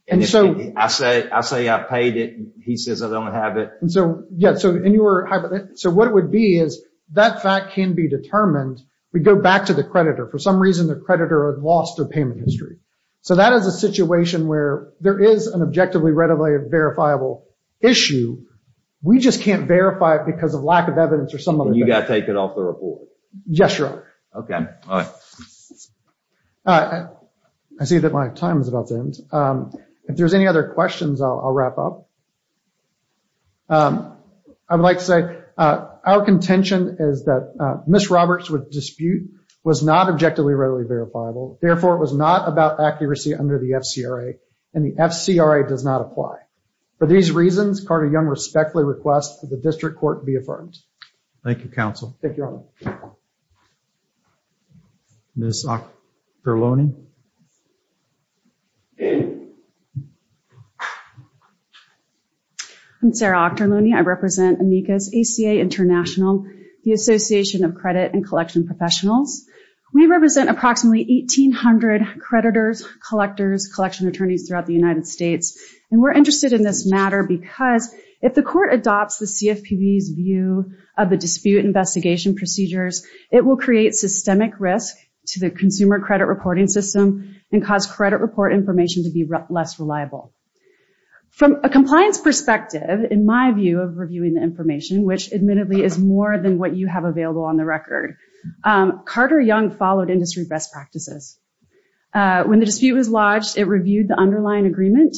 And so I say, I say I paid it. He says I don't have it. And so, yeah, so, and you were, so what it would be is that fact can be determined. We go back to the creditor. For some reason, the creditor had lost their payment history. So that is a situation where there is an objectively readily verifiable issue. We just can't verify it because of lack of evidence or some of them. You got to take it off the report. Yes, sir. Okay. I see that my time is about to end. Um, if there's any other questions, I'll, I'll wrap up. Um, I would like to say, uh, our contention is that, uh, miss Roberts would dispute was not objectively readily verifiable. Therefore it was not about accuracy under the FCRA and the FCRA does not apply for these reasons. Carter young respectfully requests for the district court to be affirmed. Thank you. Counsel. Thank you. I'm Sarah. I represent Dr. Looney. I represent amicus ACA international, the association of credit and collection professionals. We represent approximately 1800 creditors, collectors, collection attorneys throughout the United States. And we're interested in this matter because if the court adopts the CFPBs view of the dispute investigation procedures, it will create systemic risk to the consumer credit reporting system and cause credit report information to be less reliable from a compliance perspective. In my view of reviewing the information, which admittedly is more than what you have available on the record. Um, Carter young followed industry best practices. Uh, when the dispute was lodged, it reviewed the underlying agreement.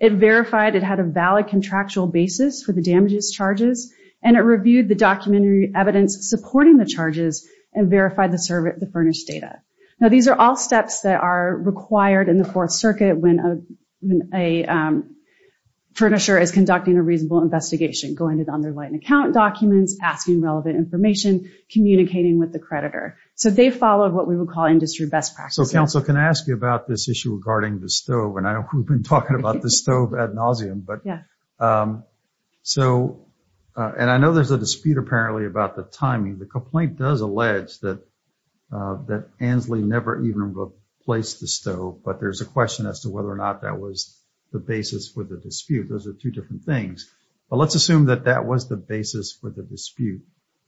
It verified it had a valid contractual basis for the damages charges. And it reviewed the documentary evidence supporting the charges and verified the service, the furnished data. Now these are all steps that are required in the fourth circuit when a, when a, um, Furnisher is conducting a reasonable investigation, going to the underlying account documents, asking relevant information, communicating with the creditor. So they followed what we would call industry best practices. Can I ask you about this issue regarding the stove? And I know we've been talking about the stove ad nauseum, but, um, so, uh, and I know there's a dispute apparently about the timing. The complaint does allege that, uh, that Ansley never even replaced the stove, but there's a question as to whether or not that was the basis for the dispute. Those are two different things, but let's assume that that was the basis for the dispute.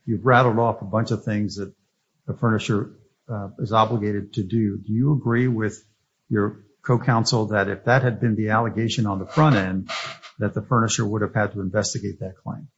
You've rattled off a bunch of things that the Furnisher, uh, is obligated to do. Do you agree with your co-counsel that if that had been the allegation on the front end, that the Furnisher would have had to investigate that claim?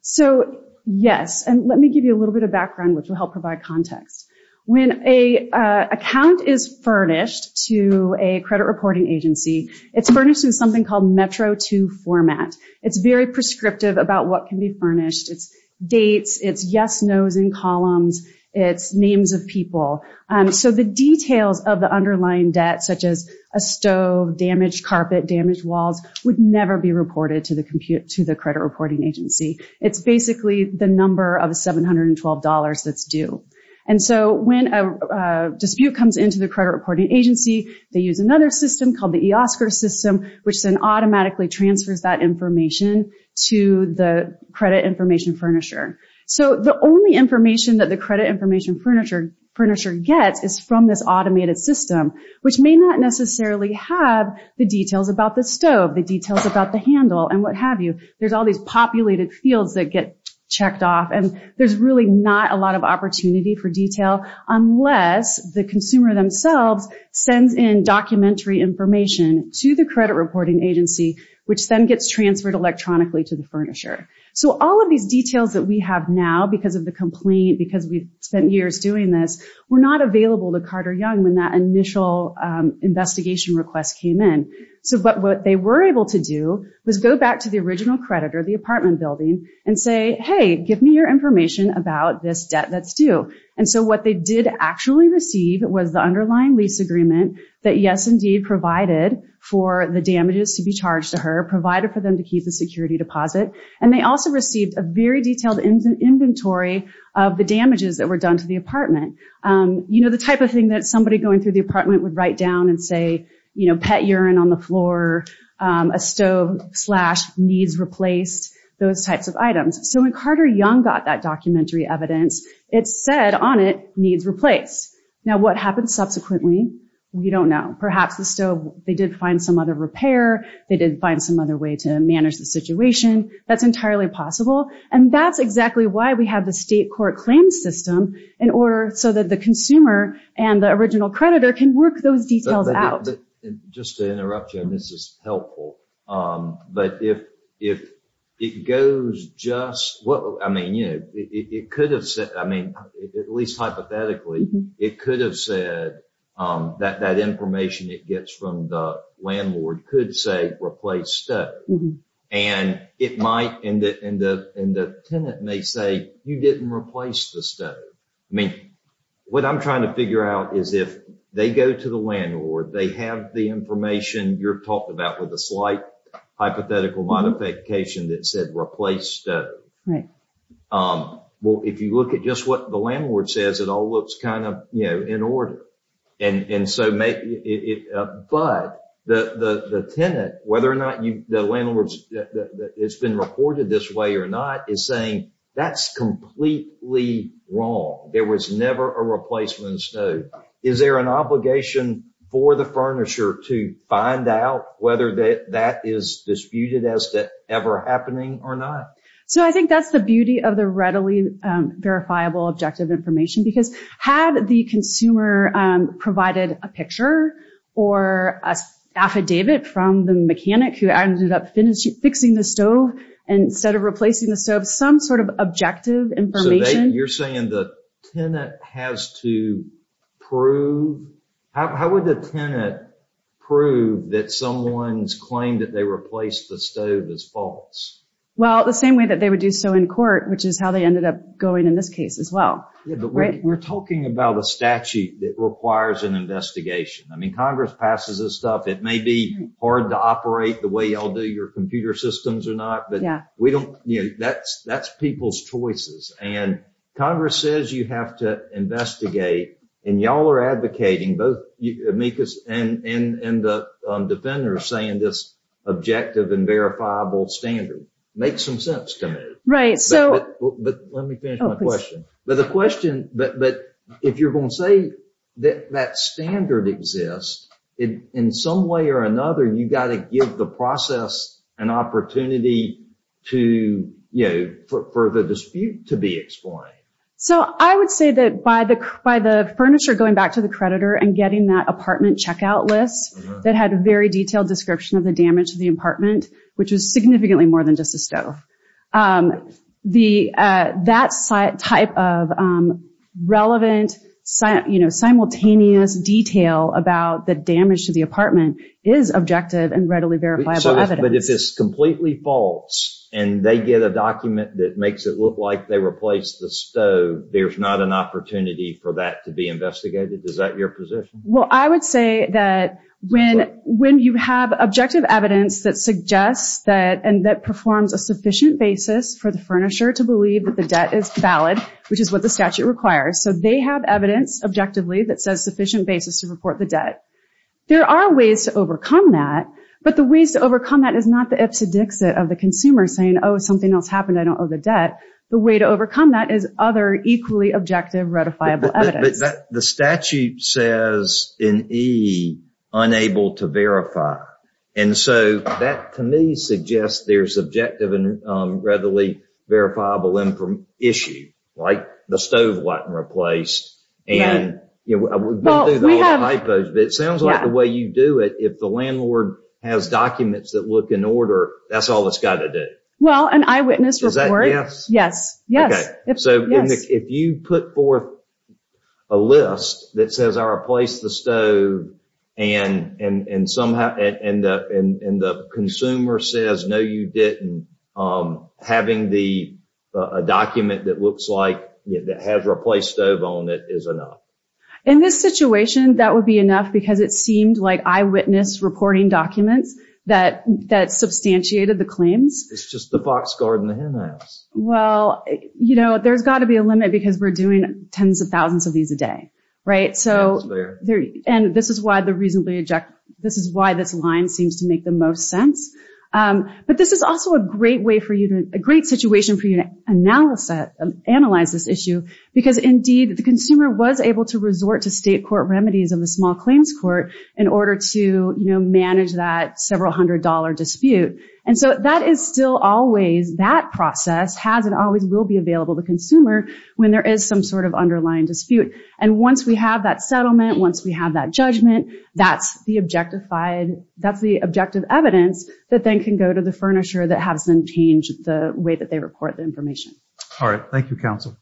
So, yes. And let me give you a little bit of background, which will help provide context. When a, uh, account is furnished to a credit reporting agency, it's furnished in something called Metro two format. It's very prescriptive about what can be furnished. It's dates. It's yes, nos, and columns. It's names of people. Um, so the details of the underlying debt, such as a stove, damaged carpet, damaged walls would never be reported to the computer, to the credit reporting agency. It's basically the number of $712 that's due. And so when a dispute comes into the credit reporting agency, they use another system called the Oscar system, which then automatically transfers that information to the credit information Furnisher. So the only information that the credit information Furnisher Furnisher gets is from this automated system, which may not necessarily have the details about the stove, the details about the handle and what have you. There's all these populated fields that get checked off. And there's really not a lot of opportunity for detail unless the consumer themselves sends in documentary information to the credit reporting agency, which then gets transferred electronically to the Furnisher. So all of these details that we have now, because of the complaint, because we've spent years doing this, we're not available to Carter young when that initial, um, investigation request came in. So, but what they were able to do was go back to the original creditor, the apartment building and say, Hey, give me your information about this debt that's due. And so what they did actually receive was the underlying lease agreement that yes, indeed provided for the damages to be charged to her provided for them to keep the security deposit. And they also received a very detailed inventory of the damages that were done to the apartment. Um, you know, the type of thing that somebody going through the apartment would write down and say, you know, pet urine on the floor, um, a stove slash needs replaced those types of items. So when Carter young got that documentary evidence, it said on it, needs replaced. Now what happens subsequently? We don't know. Perhaps the stove, they did find some other repair. They did find some other way to manage the situation. That's entirely possible. And that's exactly why we have the state court claim system in order so that the consumer and the original creditor can work those details out. Just to interrupt you on this is helpful. Um, but if, if it goes just what, I mean, you know, it, it, it could have said, I mean, at least hypothetically, it could have said, um, that, that information it gets from the landlord could say replace stuff. And it might end it in the, in the tenant may say, you didn't replace the stuff. I mean, what I'm trying to figure out is if they go to the landlord, they have the information you're talking about with a slight hypothetical modification that said replaced. Um, well, if you look at just what the landlord says, it all looks kind of, you know, in order. And, and so may it, uh, but the, the, the tenant, whether or not you, the landlords, it's been reported this way or not is saying that's completely wrong. There was never a replacement stone. Is there an obligation for the furniture to find out whether that, that is disputed as to ever happening or not? So I think that's the beauty of the readily, um, verifiable objective information because had the consumer, um, provided a picture or a affidavit from the mechanic who ended up finishing fixing the stove instead of replacing the stove, some sort of objective information. You're saying the tenant has to prove how, how would the tenant prove that someone's claimed that they replaced the stove as false? Well, the same way that they would do so in court, which is how they ended up going in this case as well. We're talking about a statute that requires an investigation. I mean, Congress passes this stuff. It may be hard to operate the way y'all do your computer systems or not, but we don't, you know, that's, that's people's choices. And Congress says you have to investigate and y'all are advocating both amicus and, and, and the defender saying this objective and verifiable standard makes some sense to me. Right. So let me finish my question. But the question, but if you're going to say that that standard exists, it in some way or another, you got to give the process an opportunity to, you know, for the dispute to be explained. So I would say that by the, by the furniture going back to the creditor and getting that apartment checkout list that had a very detailed description of the damage of the apartment, which was significantly more than just a stove. The, that site type of relevant site, you know, simultaneous detail about the damage to the apartment is objective and readily verifiable evidence. But if it's completely false and they get a document that makes it look like they replaced the stove, there's not an opportunity for that to be investigated. Is that your position? Well, I would say that when, when you have objective evidence that suggests that, and that performs a sufficient basis for the furnisher to believe that the debt is valid, which is what the statute requires. So they have evidence objectively that says sufficient basis to report the debt. There are ways to overcome that, but the ways to overcome that is not the Ipsodixit of the consumer saying, Oh, something else happened. I don't owe the debt. The way to overcome that is other equally objective ratifiable evidence. The statute says in E, unable to verify. And so that to me suggests there's objective and readily verifiable issue, right? The stove wasn't replaced. And it sounds like the way you do it. If the landlord has documents that look in order, that's all it's got to do. Well, an eyewitness report. Yes. Yes. So if you put forth a list that says, I replaced the stove and, and, and somehow, and, and, and, and the consumer says, no, you didn't. Having the document that looks like that has replaced stove on it is enough. In this situation, that would be enough because it seemed like eyewitness reporting documents that, that substantiated the claims. It's just the Fox garden. Well, you know, there's got to be a limit because we're doing tens of thousands of these a day, right? So there, and this is why the reasonably objective, this is why this line seems to make the most sense. But this is also a great way for you to a great situation for you to analyze that, analyze this issue because indeed the consumer was able to resort to state court remedies of the small claims court in order to, you know, manage that several hundred dollar dispute. And so that is still always that process has, it always will be available to consumer when there is some sort of underlying dispute. And once we have that settlement, once we have that judgment, that's the objectified. And that's the objective evidence that then can go to the furniture that has been changed the way that they report the information. All right. Thank you. Counsel.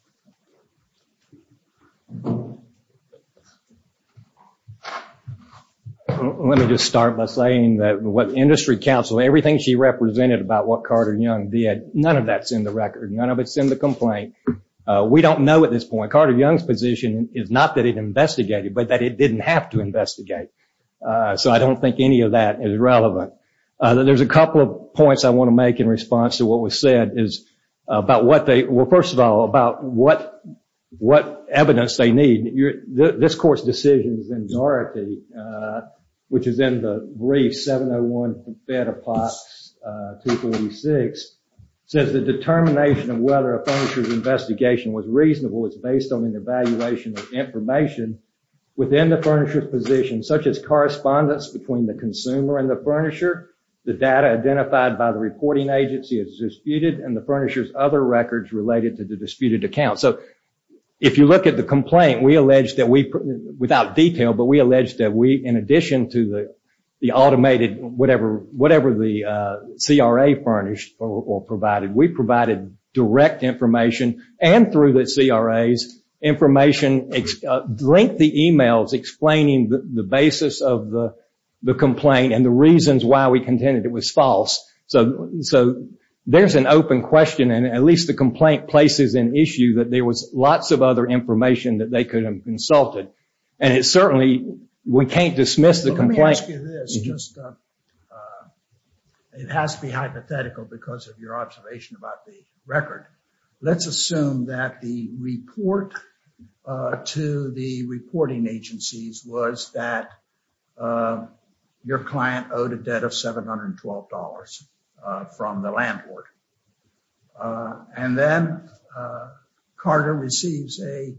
Let me just start by saying that what industry council, everything she represented about what Carter young did, none of that's in the record. None of it's in the complaint. We don't know at this point, Carter young's position is not that it investigated, but that it didn't have to investigate. So I don't think any of that is relevant. There's a couple of points I want to make in response to what was said is about what they, well, first of all, about what, what evidence they need this course decisions in Dorothy, which is in the brief 701 bed of pox, 246 says the determination of whether a furniture investigation was reasonable. It's based on an evaluation of information within the furniture position, such as correspondence between the consumer and the furniture, the data identified by the reporting agency is disputed and the furnishers, other records related to the disputed account. So if you look at the complaint, we alleged that we put without detail, but we alleged that we, in addition to the, the automated, whatever, whatever the CRA furnished or provided, we provided direct information and through the CRAs information, link the emails explaining the basis of the complaint and the reasons why we contended it was false. So, so there's an open question. And at least the complaint places an issue that there was lots of other information that they could have consulted. And it's certainly, we can't dismiss the complaint. It has to be hypothetical because of your observation about the record. Let's assume that the report to the reporting agencies was that your client owed a debt of $712 from the landlord. And then Carter receives a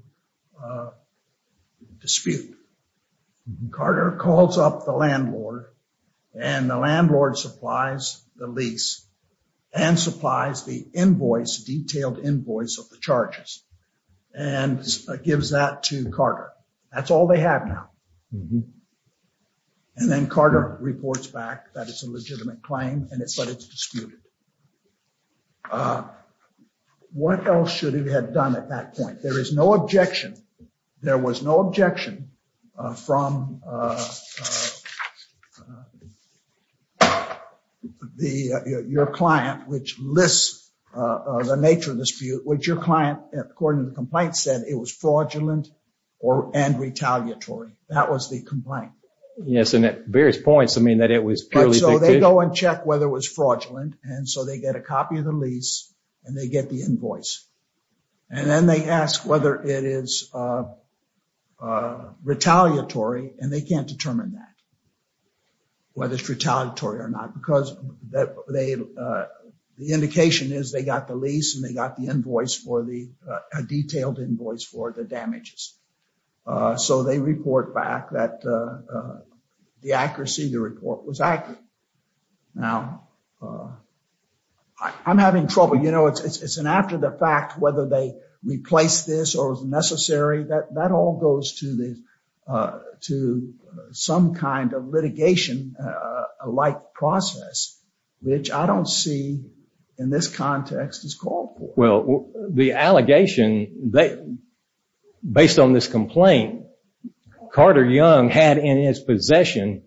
dispute. Carter calls up the landlord and the landlord supplies the lease and supplies the invoice detailed invoice of the charges and gives that to Carter. That's all they have now. And then Carter reports back that it's a legitimate claim and it's, but it's disputed. What else should it have done at that point? There is no objection. There was no objection from the, your client, which lists the nature of the dispute, which your client, according to the complaint said it was fraudulent or, and retaliatory. That was the complaint. Yes. And at various points, I mean that it was purely. So they go and check whether it was fraudulent. And so they get a copy of the lease and they get the invoice. And then they ask whether it is retaliatory. And they can't determine that. Whether it's retaliatory or not, because that they, the indication is they got the lease and they got the invoice for the, a detailed invoice for the damages. So they report back that the accuracy of the report was accurate. Now I'm having trouble. You know, it's, it's, it's an after the fact, whether they replace this or was necessary that that all goes to the, to some kind of litigation like process, which I don't see in this context is called for. Well, the allegation that based on this complaint, Carter Young had in his possession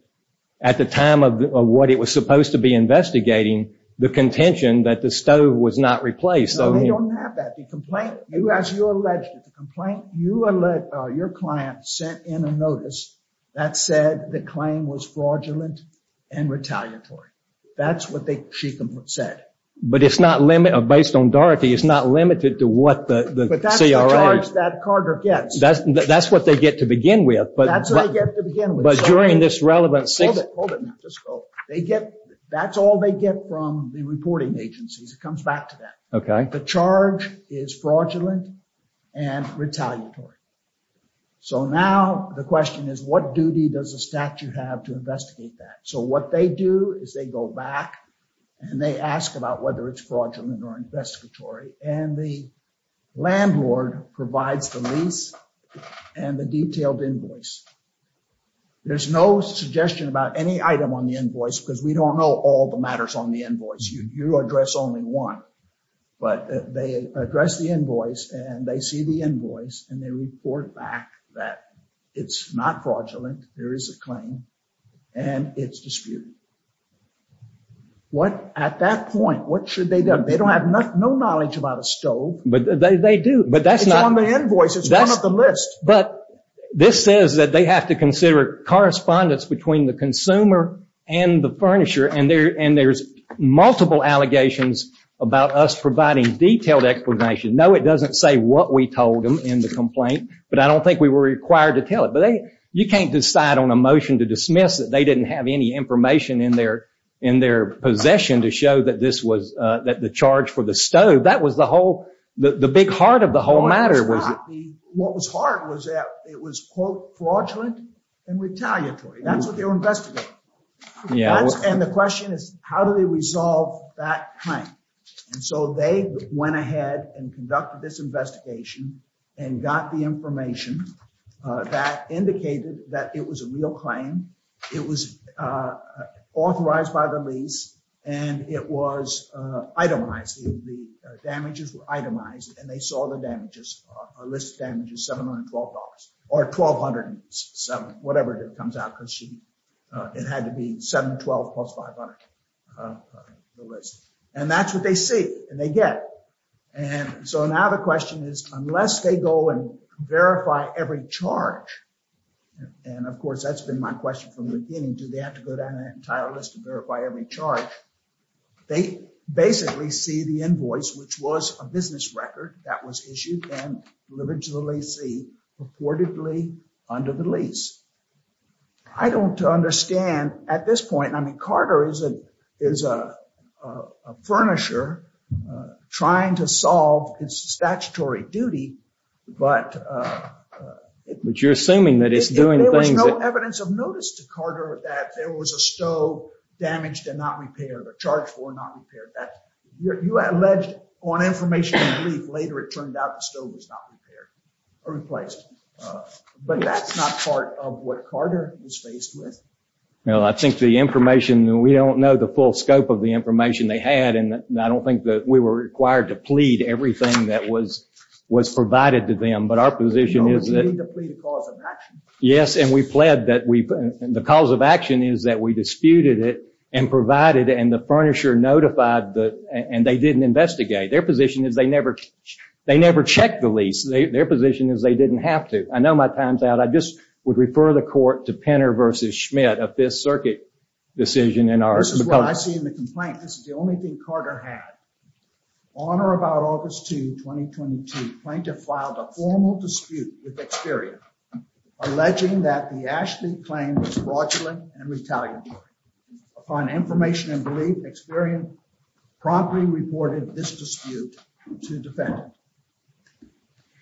at the time of what it was supposed to be investigating the contention that the stove was not replaced. So they don't have that. The complaint you, as you alleged it, the complaint you let your client sent in a notice that said the claim was fraudulent and retaliatory. That's what they, she said. But it's not limited or based on Dorothy, it's not limited to what the, the charge that Carter gets. That's what they get to begin with. But that's what I get to begin with. But during this relevant, they get, that's all they get from the reporting agencies. It comes back to that. Okay. The charge is fraudulent and retaliatory. So now the question is what duty does the statute have to investigate that? So what they do is they go back and they ask about whether it's fraudulent or investigatory. And the landlord provides the lease and the detailed invoice. There's no suggestion about any item on the invoice because we don't know all the matters on the invoice. You address only one, but they address the invoice and they see the invoice and they report back that it's not fraudulent. There is a claim and it's disputed. What, at that point, what should they do? They don't have no knowledge about a stove. But they do, but that's not on the invoice. It's one of the list. But this says that they have to consider correspondence between the consumer and the furnisher. And there's multiple allegations about us providing detailed explanation. No, it doesn't say what we told them in the complaint, but I don't think we were required to tell it, but you can't decide on a motion to dismiss it. They didn't have any information in their, in their possession to show that this was the charge for the stove. That was the whole, the big heart of the whole matter. What was hard was that it was quote fraudulent and retaliatory. That's what they were investigating. And the question is how do they resolve that claim? And so they went ahead and conducted this investigation and got the information that indicated that it was a real claim. It was authorized by the lease and it was itemized. The damages were itemized and they saw the damages, a list of damages, $712 or 1,207, whatever it comes out. Cause she, it had to be 712 plus 500. And that's what they see and they get. And so now the question is unless they go and verify every charge. And of course, that's been my question from the beginning, do they have to go down an entire list and verify every charge? They basically see the invoice, which was a business record that was issued and delivered to the leasee purportedly under the lease. I don't understand at this point, I mean, Carter is a furnisher trying to solve his statutory duty, but. But you're assuming that it's doing things. There was no evidence of notice to Carter that there was a stove damaged and not repaired or charged for not repaired. You alleged on information later, it turned out the stove was not repaired or replaced, but that's not part of what Carter was faced with. Well, I think the information, we don't know the full scope of the information they had. And I don't think that we were required to plead everything that was, was provided to them. But our position is that. Yes. And we pled that we, the cause of action is that we disputed it and provided and the furnisher notified the, and they didn't investigate their position is they never, they never checked the lease. Their position is they didn't have to. I know my time's out. I just would refer the court to Penner versus Schmidt of this circuit decision. And this is what I see in the complaint. This is the only thing Carter had on or about August 2, 2022 plaintiff filed a formal dispute with Experian, alleging that the Ashley claim was fraudulent and retaliatory upon information and belief Experian promptly reported this dispute to defend.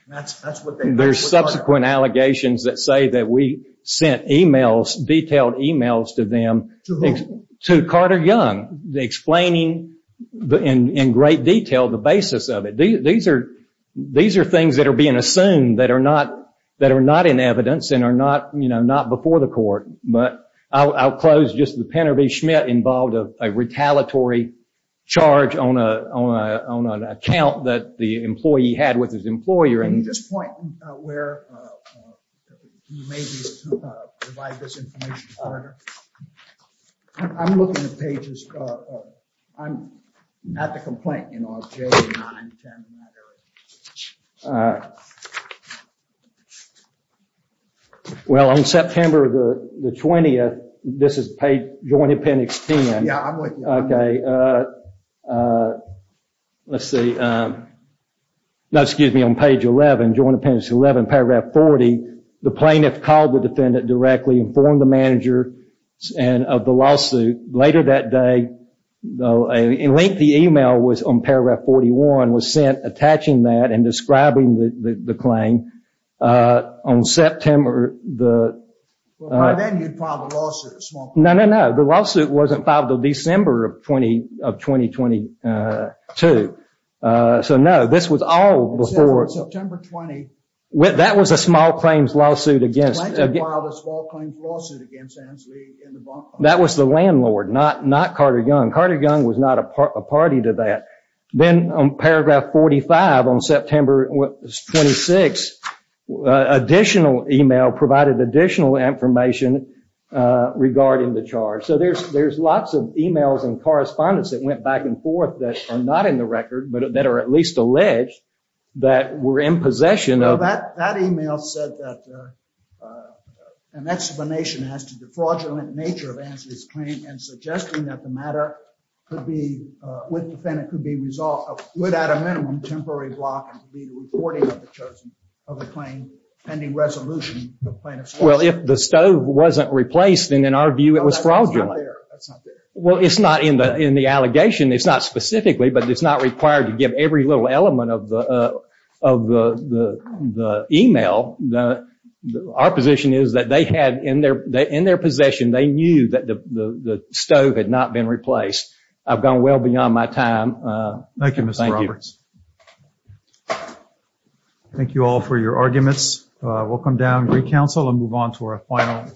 That's, that's what they, there's subsequent allegations that say that we sent emails, detailed emails to them, to Carter Young, the explaining in great detail, the basis of it. These are, these are things that are being assumed that are not, that are not in evidence and are not, you know, not before the court, but I'll close just the Penner versus Schmidt involved of a retaliatory charge on a, on a, on an account that the employee had with his employer. Can you just point where, can you maybe provide this information to Carter? I'm looking at pages, I'm at the complaint, you know, on page 9, 10 and that area. Uh, well, on September the 20th, this is page joint appendix 10. Yeah, I'm looking. Okay. Uh, uh, let's see. Um, no, excuse me on page 11, joint appendix 11, paragraph 40, the plaintiff called the defendant directly informed the manager and of the lawsuit. Later that day, though a lengthy email was on paragraph 41 was sent attaching that and describing the, the, the claim, uh, on September the, by then you'd filed a lawsuit, a small claim. No, no, no. The lawsuit wasn't filed until December of 20, of 2022. Uh, so no, this was all before. September 20. That was a small claims lawsuit against. The plaintiff filed a small claims lawsuit against Ansley and the bond company. That was the landlord, not, not Carter young. Carter young was not a part of a party to that. Then on paragraph 45 on September 26, additional email provided additional information, uh, regarding the charge. So there's, there's lots of emails and correspondence that went back and forth that are not in the record, but that are at least alleged that we're in possession. That email said that, uh, uh, And that's the nation has to defraudulent nature of answers claim and suggesting that the matter could be, uh, with defendant could be resolved without a minimum temporary block and be the reporting of the chosen of the claim pending resolution. Well, if the stove wasn't replaced and in our view, it was fraudulent. Well, it's not in the, in the allegation, it's not specifically, but it's not required to give every little element of the, uh, of the, the, the email that our position is that they had in their, in their possession, they knew that the stove had not been replaced. I've gone well beyond my time. Uh, thank you. Thank you all for your arguments. Uh, we'll come down and recounsel and move on to our final.